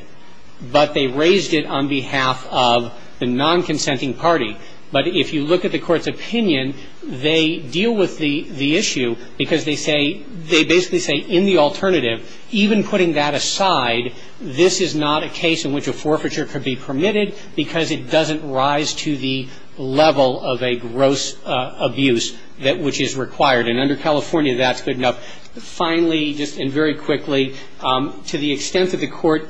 but they raised it on behalf of the non-consenting party. But if you look at the court's opinion, they deal with the issue because they basically say, in the alternative, even putting that aside, this is not a case in which a forfeiture could be permitted because it doesn't rise to the level of a gross abuse which is required. And under California, that's good enough. Finally, and very quickly, to the extent that the court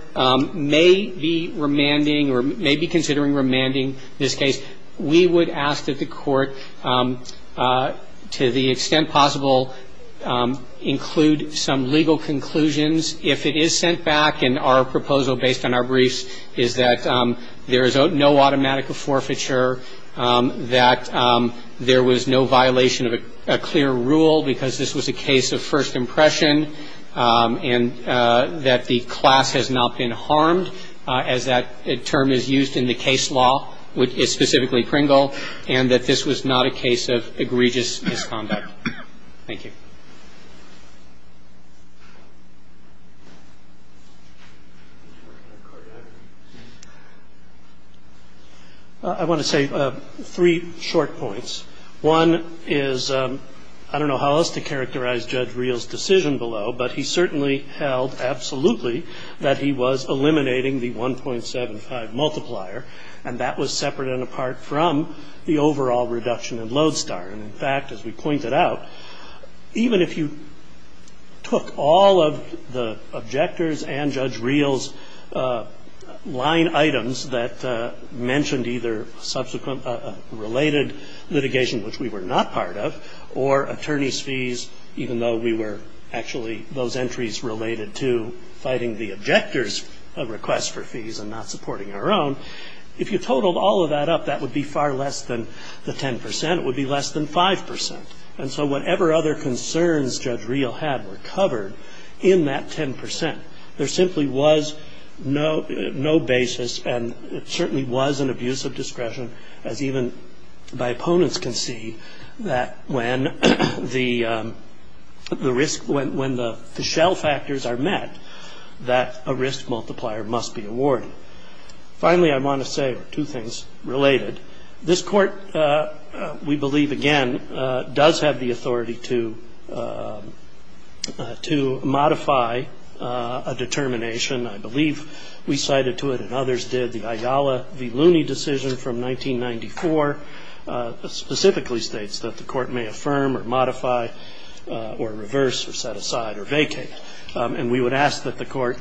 may be remanding or may be considering remanding this case, we would ask that the court, to the extent possible, include some legal conclusions. If it is sent back and our proposal based on our briefs is that there is no automatic forfeiture, that there was no violation of a clear rule because this was a case of first impression, and that the class has not been harmed as that term is used in the case law, which is specifically Pringle, and that this was not a case of egregious misconduct. Thank you. I want to say three short points. One is, I don't know how else to characterize Judge Reel's decision below, but he certainly held absolutely that he was eliminating the 1.75 multiplier, and that was separate and apart from the overall reduction in Lodestar. And in fact, as we pointed out, even if you took all of the objectors and Judge Reel's line items that mentioned either subsequent related litigation, which we were not part of, or attorney's fees, even though we were actually those entries related to fighting the objectors' request for fees and not supporting our own, if you totaled all of that up, that would be far less than the 10%. It would be less than 5%. And so whatever other concerns Judge Reel had were covered in that 10%. There simply was no basis, and it certainly was an abuse of discretion, as even my opponents can see, that when the shell factors are met, that a risk multiplier must be awarded. Finally, I want to say two things related. This court, we believe, again, does have the authority to modify a determination. I believe we cited to it, and others did, the Ayala v. Looney decision from 1994 specifically states that the court may affirm or modify or reverse or set aside or vacate. And we would ask that the court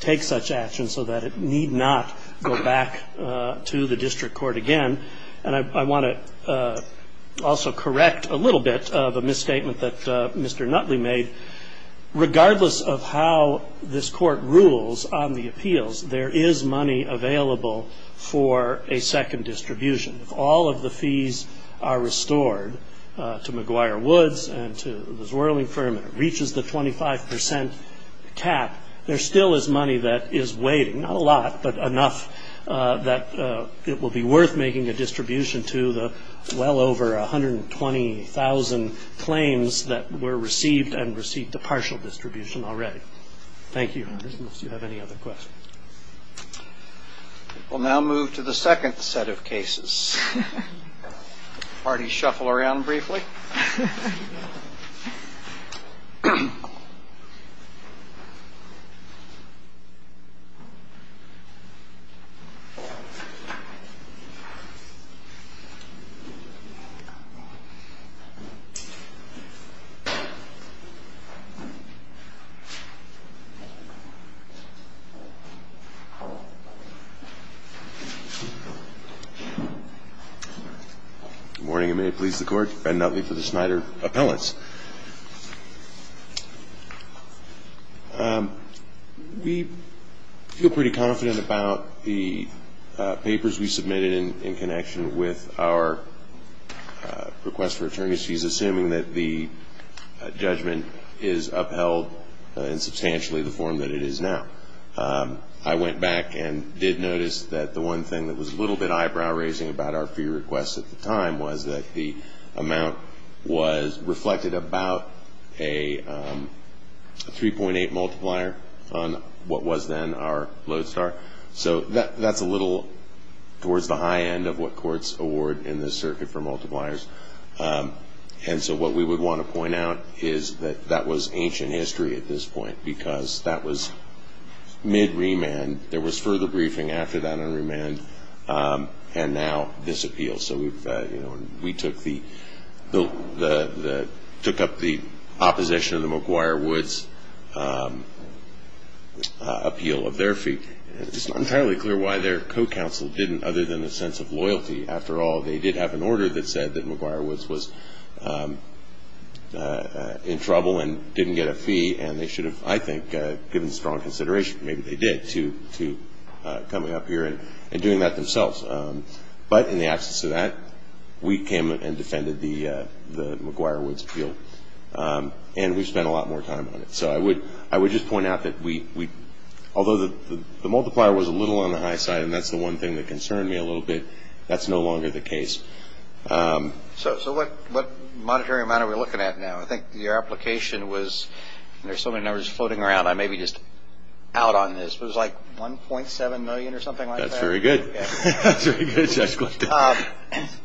take such action so that it need not go back to the district court again. And I want to also correct a little bit of a misstatement that Mr. Nutley made. Regardless of how this court rules on the appeals, there is money available for a second distribution. If all of the fees are restored to McGuire Woods and to the swirling firm and it reaches the 25% cap, there still is money that is waiving, not a lot, but enough, that it will be worth making the distribution to the well over 120,000 claims that were received and received a partial distribution already. Thank you. Unless you have any other questions. We'll now move to the second set of cases. The parties shuffle around briefly. Good morning and may it please the Court. Ben Nutley for the Snyder Appellants. We feel pretty confident about the papers we submitted in connection with our request for attorneys. She's assuming that the judgment is upheld in substantially the form that it is now. I went back and did notice that the one thing that was a little bit eyebrow raising about our fee request at the time was that the amount was reflected about a 3.8 multiplier on what was then our LODESTAR. That's a little towards the high end of what courts award in this circuit for multipliers. What we would want to point out is that that was ancient history at this point because that was mid-remand. There was further briefing after that in remand and now this appeal. We took up the opposition of the McGuire-Woods appeal of their fee. It's not entirely clear why their co-counsel didn't, other than a sense of loyalty. After all, they did have an order that said that McGuire-Woods was in trouble and didn't get a fee and they should have, I think, given strong consideration. Maybe they did to coming up here and doing that themselves. In the absence of that, we came and defended the McGuire-Woods appeal. We spent a lot more time on it. I would just point out that although the multiplier was a little on the high side and that's the one thing that concerned me a little bit, that's no longer the case. What monetary amount are we looking at now? I think your application was, there's so many numbers floating around, I may be just out on this. It was like 1.7 million or something like that? That's very good.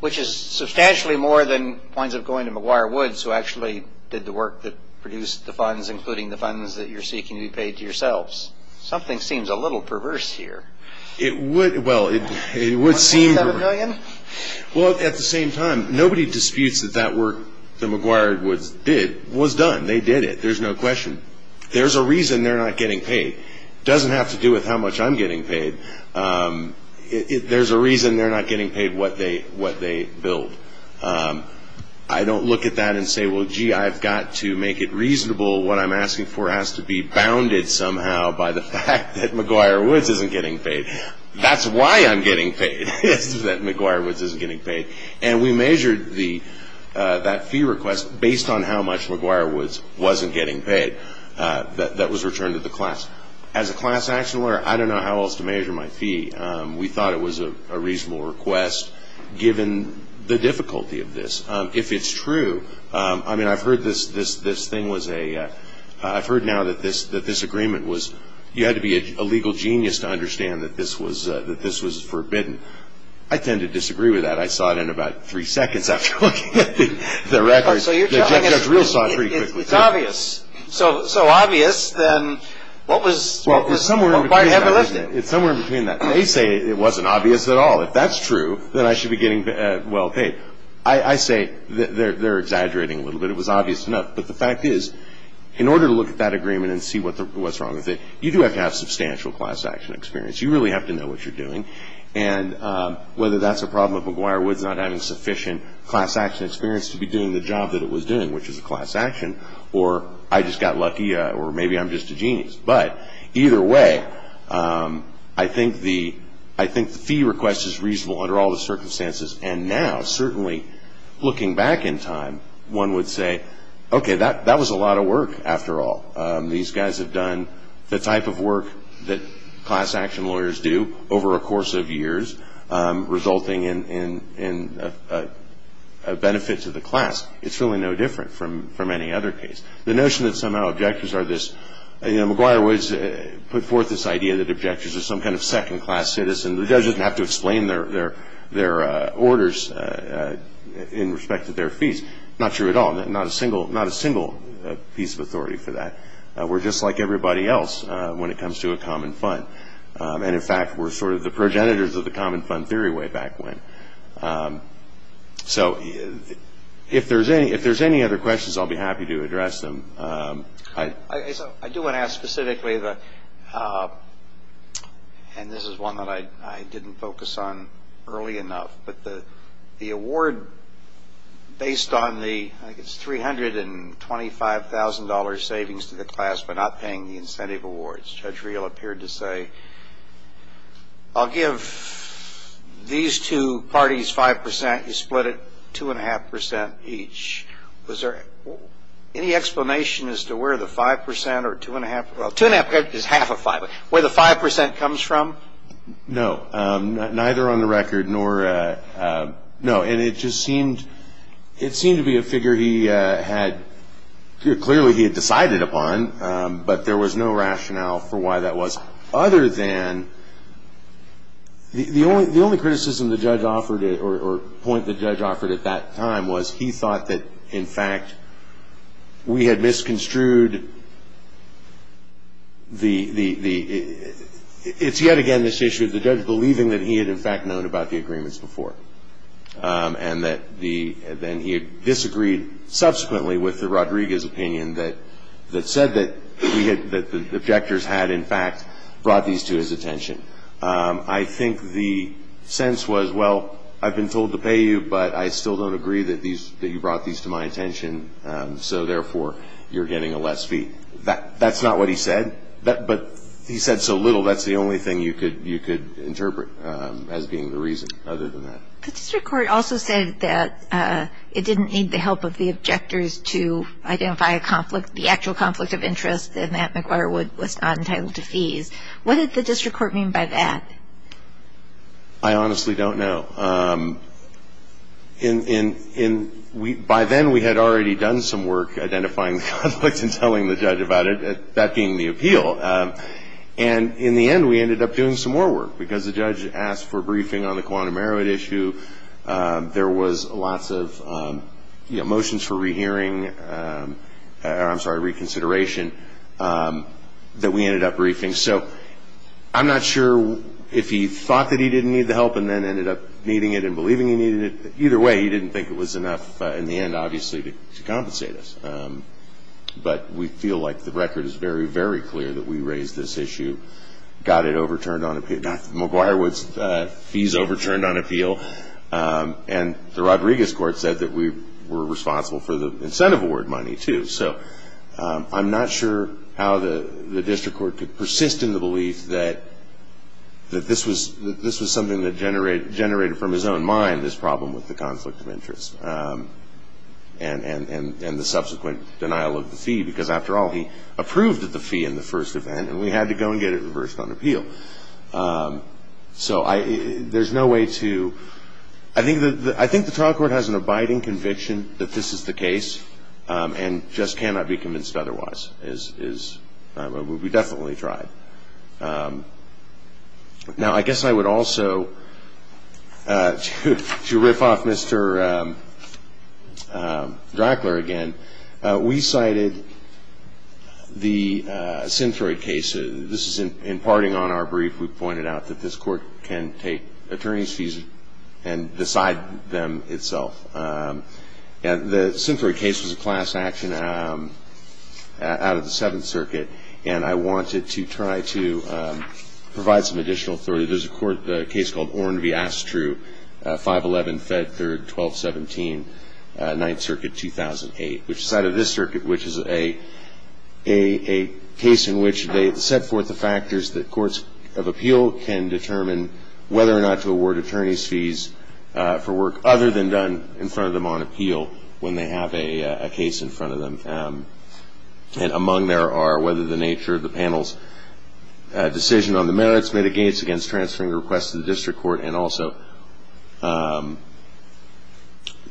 Which is substantially more than points of going to McGuire-Woods, who actually did the work that produced the funds, including the funds that you're seeking to be paid to yourselves. Something seems a little perverse here. 1.7 million? Well, at the same time, nobody disputes that that work the McGuire-Woods did was done. They did it. There's no question. There's a reason they're not getting paid. It doesn't have to do with how much I'm getting paid. There's a reason they're not getting paid what they billed. I don't look at that and say, well, gee, I've got to make it reasonable. What I'm asking for has to be bounded somehow by the fact that McGuire-Woods isn't getting paid. That's why I'm getting paid, that McGuire-Woods isn't getting paid. And we measured that fee request based on how much McGuire-Woods wasn't getting paid that was returned to the class. As a class action lawyer, I don't know how else to measure my fee. We thought it was a reasonable request given the difficulty of this. If it's true, I mean, I've heard this thing was a – I've heard now that this agreement was – you had to be a legal genius to understand that this was forbidden. I tend to disagree with that. I saw it in about three seconds after looking at the records. The judge real saw it pretty quickly. It's obvious. So obvious, then what was – Well, it's somewhere in between that. They say it wasn't obvious at all. If that's true, then I should be getting well-paid. I say they're exaggerating a little bit. It was obvious enough. But the fact is, in order to look at that agreement and see what's wrong with it, you do have to have substantial class action experience. You really have to know what you're doing. And whether that's a problem of McGuire Woods not having sufficient class action experience to be doing the job that it was doing, which is a class action, or I just got lucky, or maybe I'm just a genius. But either way, I think the fee request is reasonable under all the circumstances. And now, certainly looking back in time, one would say, okay, that was a lot of work after all. These guys have done the type of work that class action lawyers do over a course of years, resulting in benefits of the class. It's really no different from any other case. The notion that somehow objectors are this – McGuire Woods put forth this idea that objectors are some kind of second-class citizen. The judge doesn't have to explain their orders in respect to their fees. Not true at all. Not a single piece of authority for that. We're just like everybody else when it comes to a common fund. And, in fact, we're sort of the progenitors of the common fund theory way back when. So if there's any other questions, I'll be happy to address them. I do want to ask specifically – and this is one that I didn't focus on early enough – but the award based on the $325,000 savings to the class but not paying the incentive awards. Judge Riehl appeared to say, I'll give these two parties 5%. You split it 2.5% each. Was there any explanation as to where the 5% or 2.5% – 2.5% is half of 5%. Where the 5% comes from? No. Neither on the record nor – no. And it just seemed – it seemed to be a figure he had – clearly he had decided upon, but there was no rationale for why that was other than – the only criticism the judge offered or point the judge offered at that time was he thought that, in fact, we had misconstrued the – it's yet again this issue of the judge believing that he had, in fact, known about the agreements before and that the – then he disagreed subsequently with the Rodriguez opinion that said that we had – that the objectors had, in fact, brought these to his attention. I think the sense was, well, I've been told to pay you, but I still don't agree that these – that you brought these to my attention, so, therefore, you're getting a less fee. That's not what he said, but he said so little. That's the only thing you could interpret as being the reason other than that. The district court also said that it didn't need the help of the objectors to identify a conflict, the actual conflict of interest, and that McIntyre was entitled to seize. What did the district court mean by that? I honestly don't know. By then, we had already done some work identifying the conflict and telling the judge about it, that being the appeal, and in the end, we ended up doing some more work because the judge asked for a briefing on the quantum merit issue. There was lots of motions for rehearing – I'm sorry, reconsideration that we ended up briefing. I'm not sure if he thought that he didn't need the help and then ended up needing it and believing he needed it. Either way, he didn't think it was enough, in the end, obviously, to compensate us. But we feel like the record is very, very clear that we raised this issue, got it overturned on appeal. McIntyre's fees overturned on appeal, and the Rodriguez court said that we were responsible for the incentive award money, too. I'm not sure how the district court could persist in the belief that this was something that generated, from his own mind, this problem with the conflict of interest and the subsequent denial of the fee, because, after all, he approved of the fee in the first event, and we had to go and get it reversed on appeal. I think the trial court has an abiding conviction that this is the case, and just cannot be convinced otherwise. We definitely tried. Now, I guess I would also, to rip off Mr. Drackler again, we cited the Centroid case. This is imparting on our brief. We pointed out that this court can take attorney's fees and decide them itself. The Centroid case was a class action out of the Seventh Circuit, and I wanted to try to provide some additional authority. There's a case called Oren v. Astru, 511 Fed 3rd, 1217, 9th Circuit, 2008, which cited this circuit, which is a case in which they set forth the factors that courts of appeal can determine whether or not to award attorney's fees for work other than done in front of them on appeal, when they have a case in front of them. And among there are whether the nature of the panel's decision on the merits mitigates against transferring the request to the district court, and also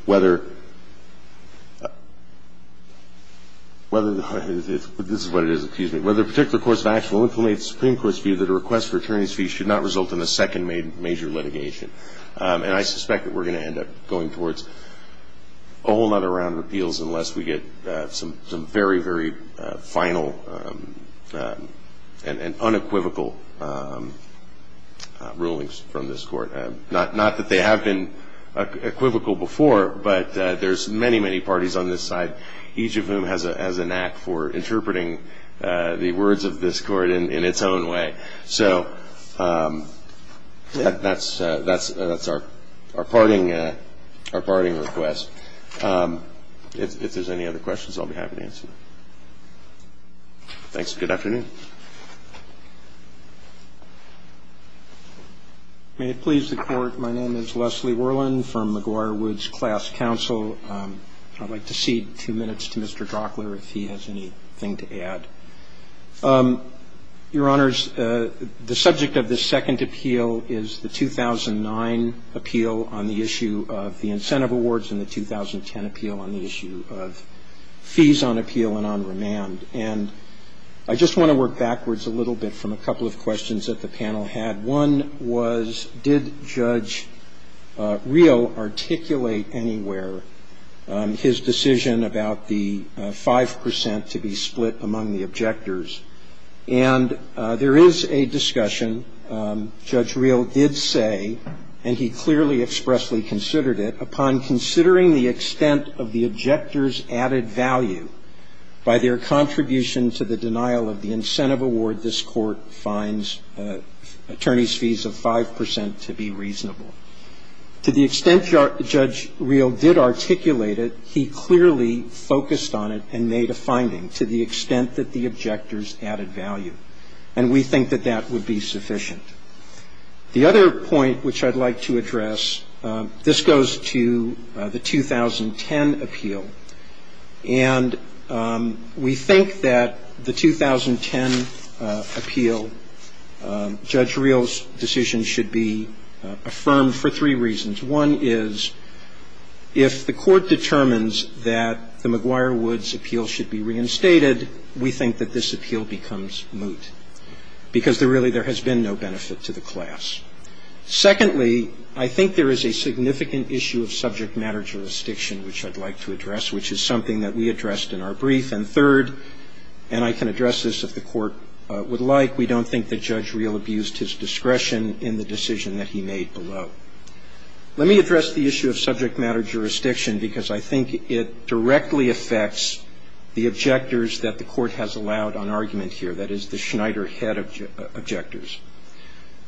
whether particular courts of action that request for attorney's fees should not result in a second major litigation. And I suspect that we're going to end up going towards a whole other round of appeals unless we get some very, very final and unequivocal rulings from this court. Not that they have been equivocal before, but there's many, many parties on this side, each of whom has a knack for interpreting the words of this court in its own way. So that's our parting request. If there's any other questions, I'll be happy to answer them. Thanks. Good afternoon. May it please the Court, my name is Leslie Worland from McGuire Woods Class Counsel. I'd like to cede two minutes to Mr. Gockler if he has anything to add. Your Honors, the subject of this second appeal is the 2009 appeal on the issue of the incentive awards and the 2010 appeal on the issue of fees on appeal and on remand. And I just want to work backwards a little bit from a couple of questions that the panel had. One was, did Judge Real articulate anywhere his decision about the 5% to be split among the objectors? And there is a discussion. Judge Real did say, and he clearly expressly considered it, upon considering the extent of the objectors' added value, By their contribution to the denial of the incentive award, this Court finds attorneys' fees of 5% to be reasonable. To the extent Judge Real did articulate it, he clearly focused on it and made a finding to the extent that the objectors added value. And we think that that would be sufficient. The other point which I'd like to address, this goes to the 2010 appeal. And we think that the 2010 appeal, Judge Real's decision should be affirmed for three reasons. One is, if the Court determines that the McGuire-Woods appeal should be reinstated, we think that this appeal becomes moot. Because really there has been no benefit to the class. Secondly, I think there is a significant issue of subject matter jurisdiction which I'd like to address, which is something that we addressed in our brief. And third, and I can address this if the Court would like, we don't think that Judge Real abused his discretion in the decision that he made below. Let me address the issue of subject matter jurisdiction, because I think it directly affects the objectors that the Court has allowed on argument here, that is the Schneider head objectors.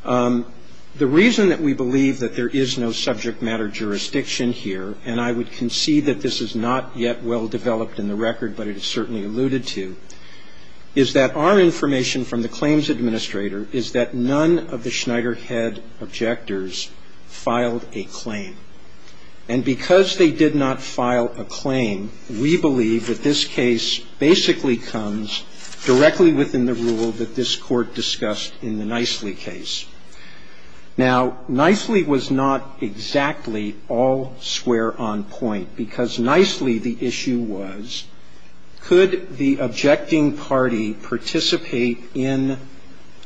The reason that we believe that there is no subject matter jurisdiction here, and I would concede that this is not yet well developed in the record, but it is certainly alluded to, is that our information from the claims administrator is that none of the Schneider head objectors filed a claim. And because they did not file a claim, we believe that this case basically comes directly within the rule that this Court discussed in the Nicely case. Now, Nicely was not exactly all square on point, because Nicely the issue was, could the objecting party participate in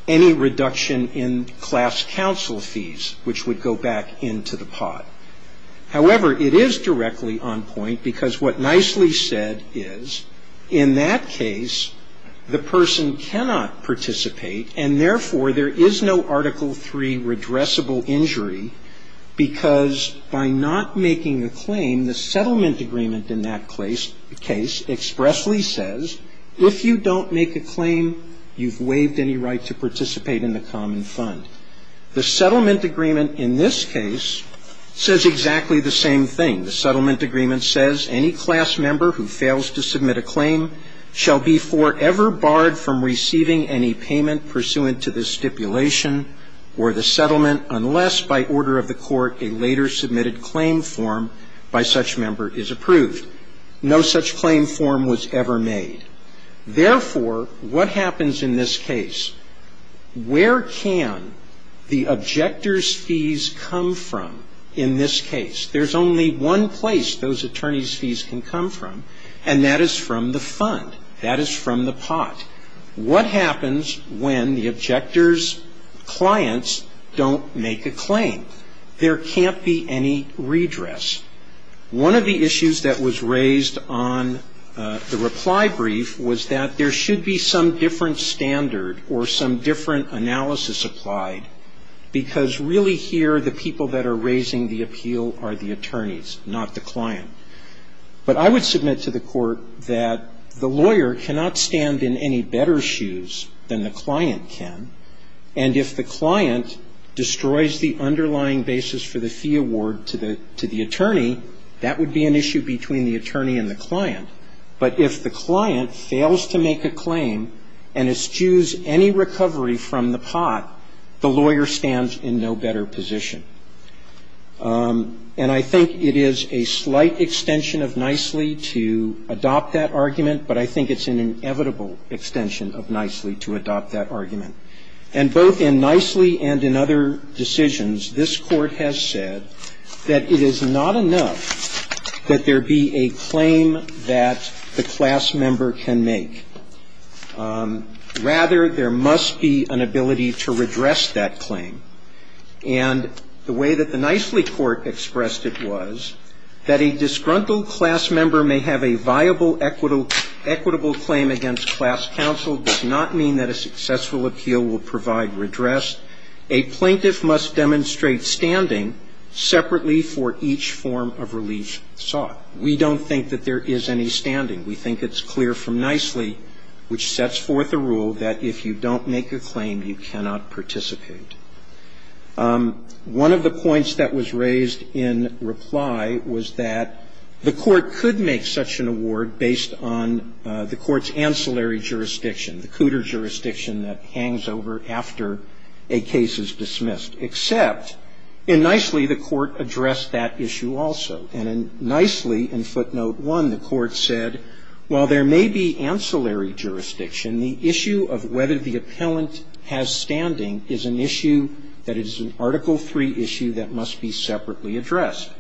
any reduction in class counsel fees, which would go back into the pot. However, it is directly on point, because what Nicely said is, in that case, the person cannot participate, and therefore there is no Article III redressable injury, because by not making a claim, the settlement agreement in that case expressly says, if you don't make a claim, you've waived any right to participate in the common fund. The settlement agreement in this case says exactly the same thing. The settlement agreement says, any class member who fails to submit a claim shall be forever barred from receiving any payment pursuant to this stipulation or the settlement unless, by order of the Court, a later submitted claim form by such member is approved. No such claim form was ever made. Therefore, what happens in this case? Where can the objector's fees come from in this case? There is only one place those attorney's fees can come from, and that is from the fund. That is from the pot. What happens when the objector's clients don't make a claim? There cannot be any redress. One of the issues that was raised on the reply brief was that there should be some different standard or some different analysis applied, because really here the people that are raising the appeal are the attorneys, not the client. But I would submit to the Court that the lawyer cannot stand in any better shoes than the client can, and if the client destroys the underlying basis for the fee award to the attorney, that would be an issue between the attorney and the client. But if the client fails to make a claim and eschews any recovery from the pot, the lawyer stands in no better position. And I think it is a slight extension of nicely to adopt that argument, but I think it is an inevitable extension of nicely to adopt that argument. And both in nicely and in other decisions, this Court has said that it is not enough that there be a claim that the class member can make. Rather, there must be an ability to redress that claim. And the way that the nicely Court expressed it was that a disgruntled class member may have a viable, equitable claim against class counsel does not mean that a successful appeal will provide redress. A plaintiff must demonstrate standing separately for each form of relief sought. We don't think that there is any standing. We think it is clear from nicely, which sets forth a rule, that if you don't make a claim, you cannot participate. One of the points that was raised in reply was that the Court could make such an award based on the Court's ancillary jurisdiction, the cooter jurisdiction that hangs over after a case is dismissed. Except, in nicely, the Court addressed that issue also. And in nicely, in footnote one, the Court said, while there may be ancillary jurisdiction, the issue of whether the appellant has standing is an issue that is an Article III issue that must be separately addressed.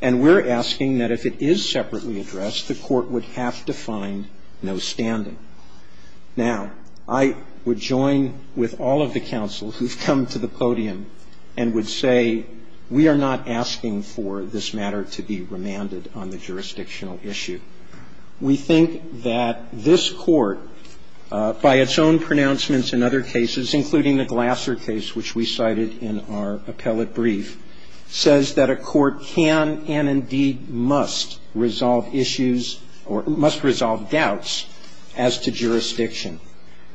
And we're asking that if it is separately addressed, the Court would have to find no standing. Now, I would join with all of the counsel who've come to the podium and would say we are not asking for this matter to be remanded on the jurisdictional issue. We think that this Court, by its own pronouncements in other cases, including the Glasser case, which we cited in our appellate brief, says that a court can and indeed must resolve issues or must resolve doubts as to jurisdiction.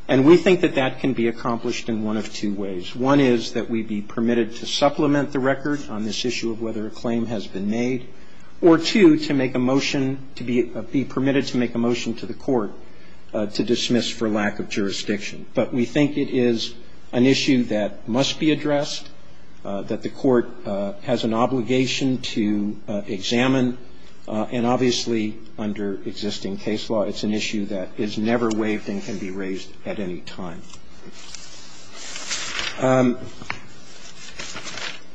And we think that that can be accomplished in one of two ways. One is that we be permitted to supplement the record on this issue of whether a claim has been made. Or two, to make a motion, to be permitted to make a motion to the Court to dismiss for lack of jurisdiction. But we think it is an issue that must be addressed, that the Court has an obligation to examine. And obviously, under existing case law, it's an issue that is never waived and can be raised at any time.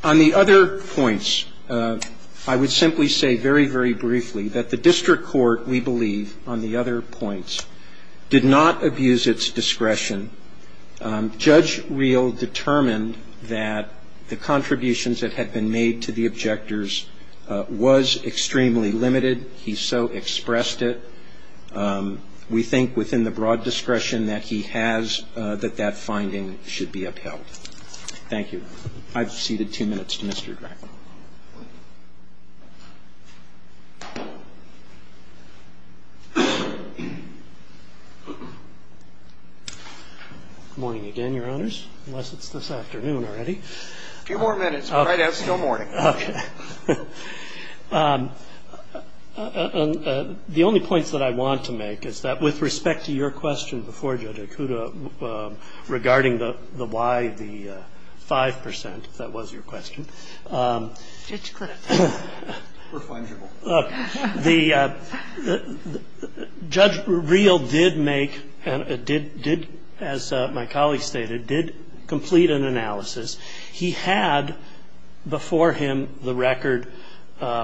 On the other points, I would simply say very, very briefly, that the District Court, we believe, on the other points, did not abuse its discretion. Judge Reel determined that the contributions that had been made to the objectors was extremely limited. He so expressed it. We think, within the broad discretion that he has, that that finding should be upheld. Thank you. I've ceded two minutes to Mr. Beck. Good morning again, Your Honors. Unless it's this afternoon already. A few more minutes. Right out until morning. Okay. The only point that I want to make is that, with respect to your question before, Judge Okuda, regarding the why the 5%, if that was your question. It's correct. We're plangible. Judge Reel did make, as my colleague stated, did complete an analysis. He had before him the record,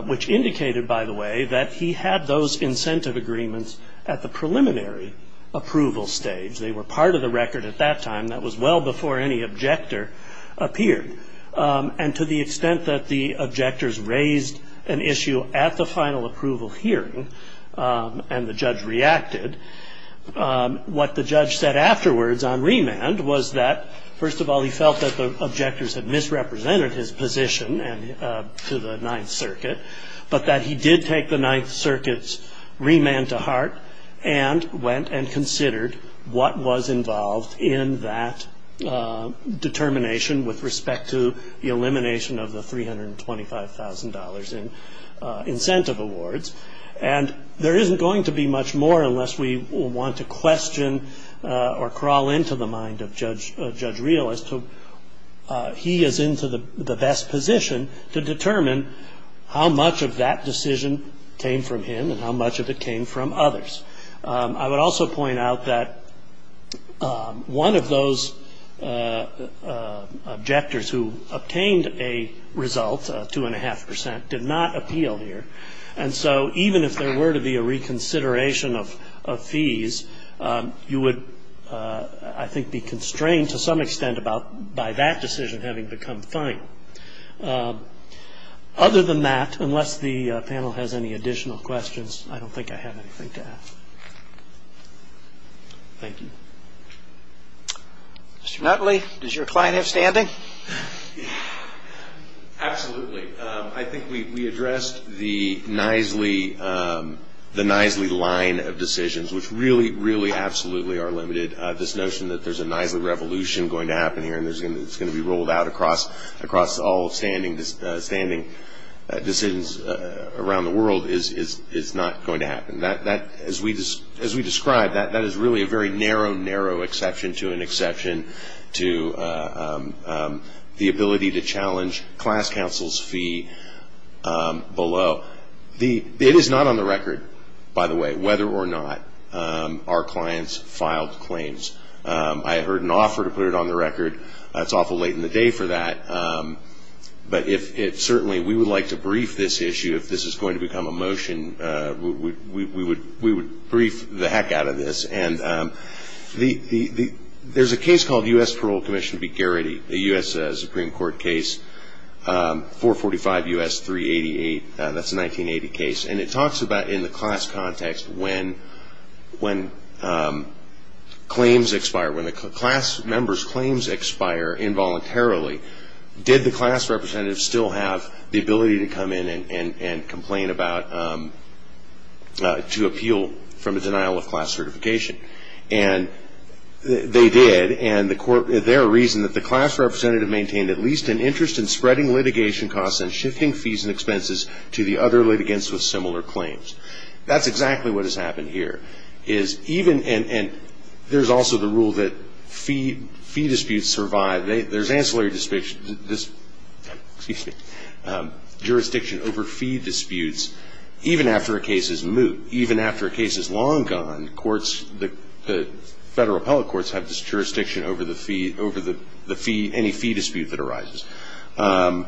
which indicated, by the way, that he had those incentive agreements at the preliminary approval stage. They were part of the record at that time. That was well before any objector appeared. And to the extent that the objectors raised an issue at the final approval hearing, and the judge reacted, what the judge said afterwards on remand was that, first of all, he felt that the objectors had misrepresented his position to the Ninth Circuit, but that he did take the Ninth Circuit's remand to heart and went and considered what was involved in that determination with respect to the elimination of the $325,000 in incentive awards. And there isn't going to be much more unless we want to question or crawl into the mind of Judge Reel as to he is into the best position to determine how much of that decision came from him and how much of it came from others. I would also point out that one of those objectors who obtained a result, 2.5%, did not appeal here. And so even if there were to be a reconsideration of fees, you would, I think, be constrained to some extent by that decision having become fine. Other than that, unless the panel has any additional questions, I don't think I have anything to add. Thank you. Mr. Nutley, does your client have standing? Absolutely. I think we addressed the Knisley line of decisions, which really, really absolutely are limited. This notion that there's a Knisley revolution going to happen here and it's going to be rolled out across all standing decisions around the world is not going to happen. As we described, that is really a very narrow, narrow exception to an exception to the ability to challenge class counsel's fee below. It is not on the record, by the way, whether or not our clients filed claims. I heard an offer to put it on the record. It's awful late in the day for that, but certainly we would like to brief this issue. If this is going to become a motion, we would brief the heck out of this. There's a case called U.S. Parole Commission v. Garrity, a U.S. Supreme Court case, 445 U.S. 388. That's a 1980 case. It talks about in the class context when claims expire, when a class member's claims expire involuntarily, did the class representative still have the ability to come in and complain about to appeal from a denial of class certification? They did, and their reason is that the class representative maintained at least an interest in spreading litigation costs and shifting fees and expenses to the other litigants with similar claims. That's exactly what has happened here. There's also the rule that fee disputes survive. There's ancillary jurisdiction over fee disputes. Even after a case is moot, even after a case is long gone, the federal appellate courts have this jurisdiction over any fee dispute that arises. And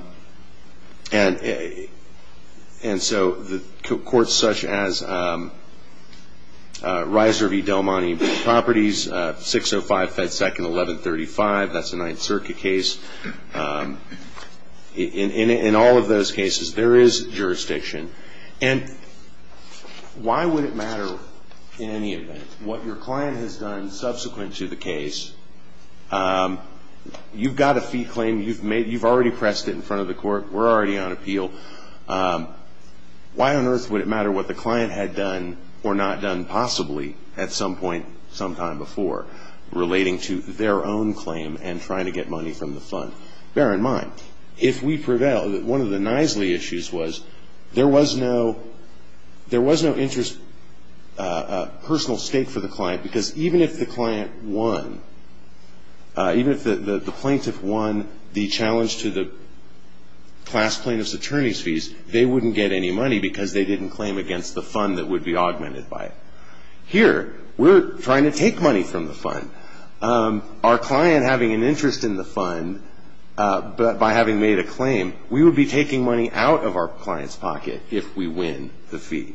so the courts such as Reiser v. Del Monte Properties, 605 Fed Second 1135, that's a Ninth Circuit case, in all of those cases there is jurisdiction. And why would it matter in any event? What your client has done subsequent to the case, you've got a fee claim, you've already pressed it in front of the court, we're already on appeal. Why on earth would it matter what the client had done or not done possibly at some point sometime before, relating to their own claim and trying to get money from the fund? Bear in mind, if we prevail, one of the nicely issues was there was no personal stake for the client, because even if the client won, even if the plaintiff won the challenge to the class plaintiff's attorney's fees, they wouldn't get any money because they didn't claim against the fund that would be augmented by it. Here, we're trying to take money from the fund. Our client having an interest in the fund by having made a claim, we would be taking money out of our client's pocket if we win the fee,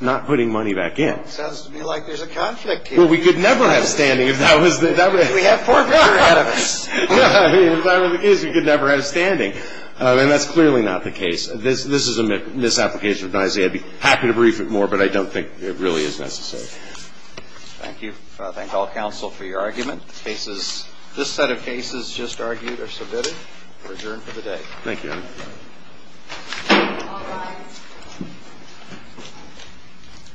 not putting money back in. It sounds to me like there's a conflict here. Well, we could never have standing if that was the case. We have four court articles. If that were the case, we could never have standing. And that's clearly not the case. This is a misapplication of my idea. I'd be happy to brief you more, but I don't think it really is necessary. Thank you. I thank all counsel for your argument. This set of cases just argued are submitted and adjourned for the day. Thank you.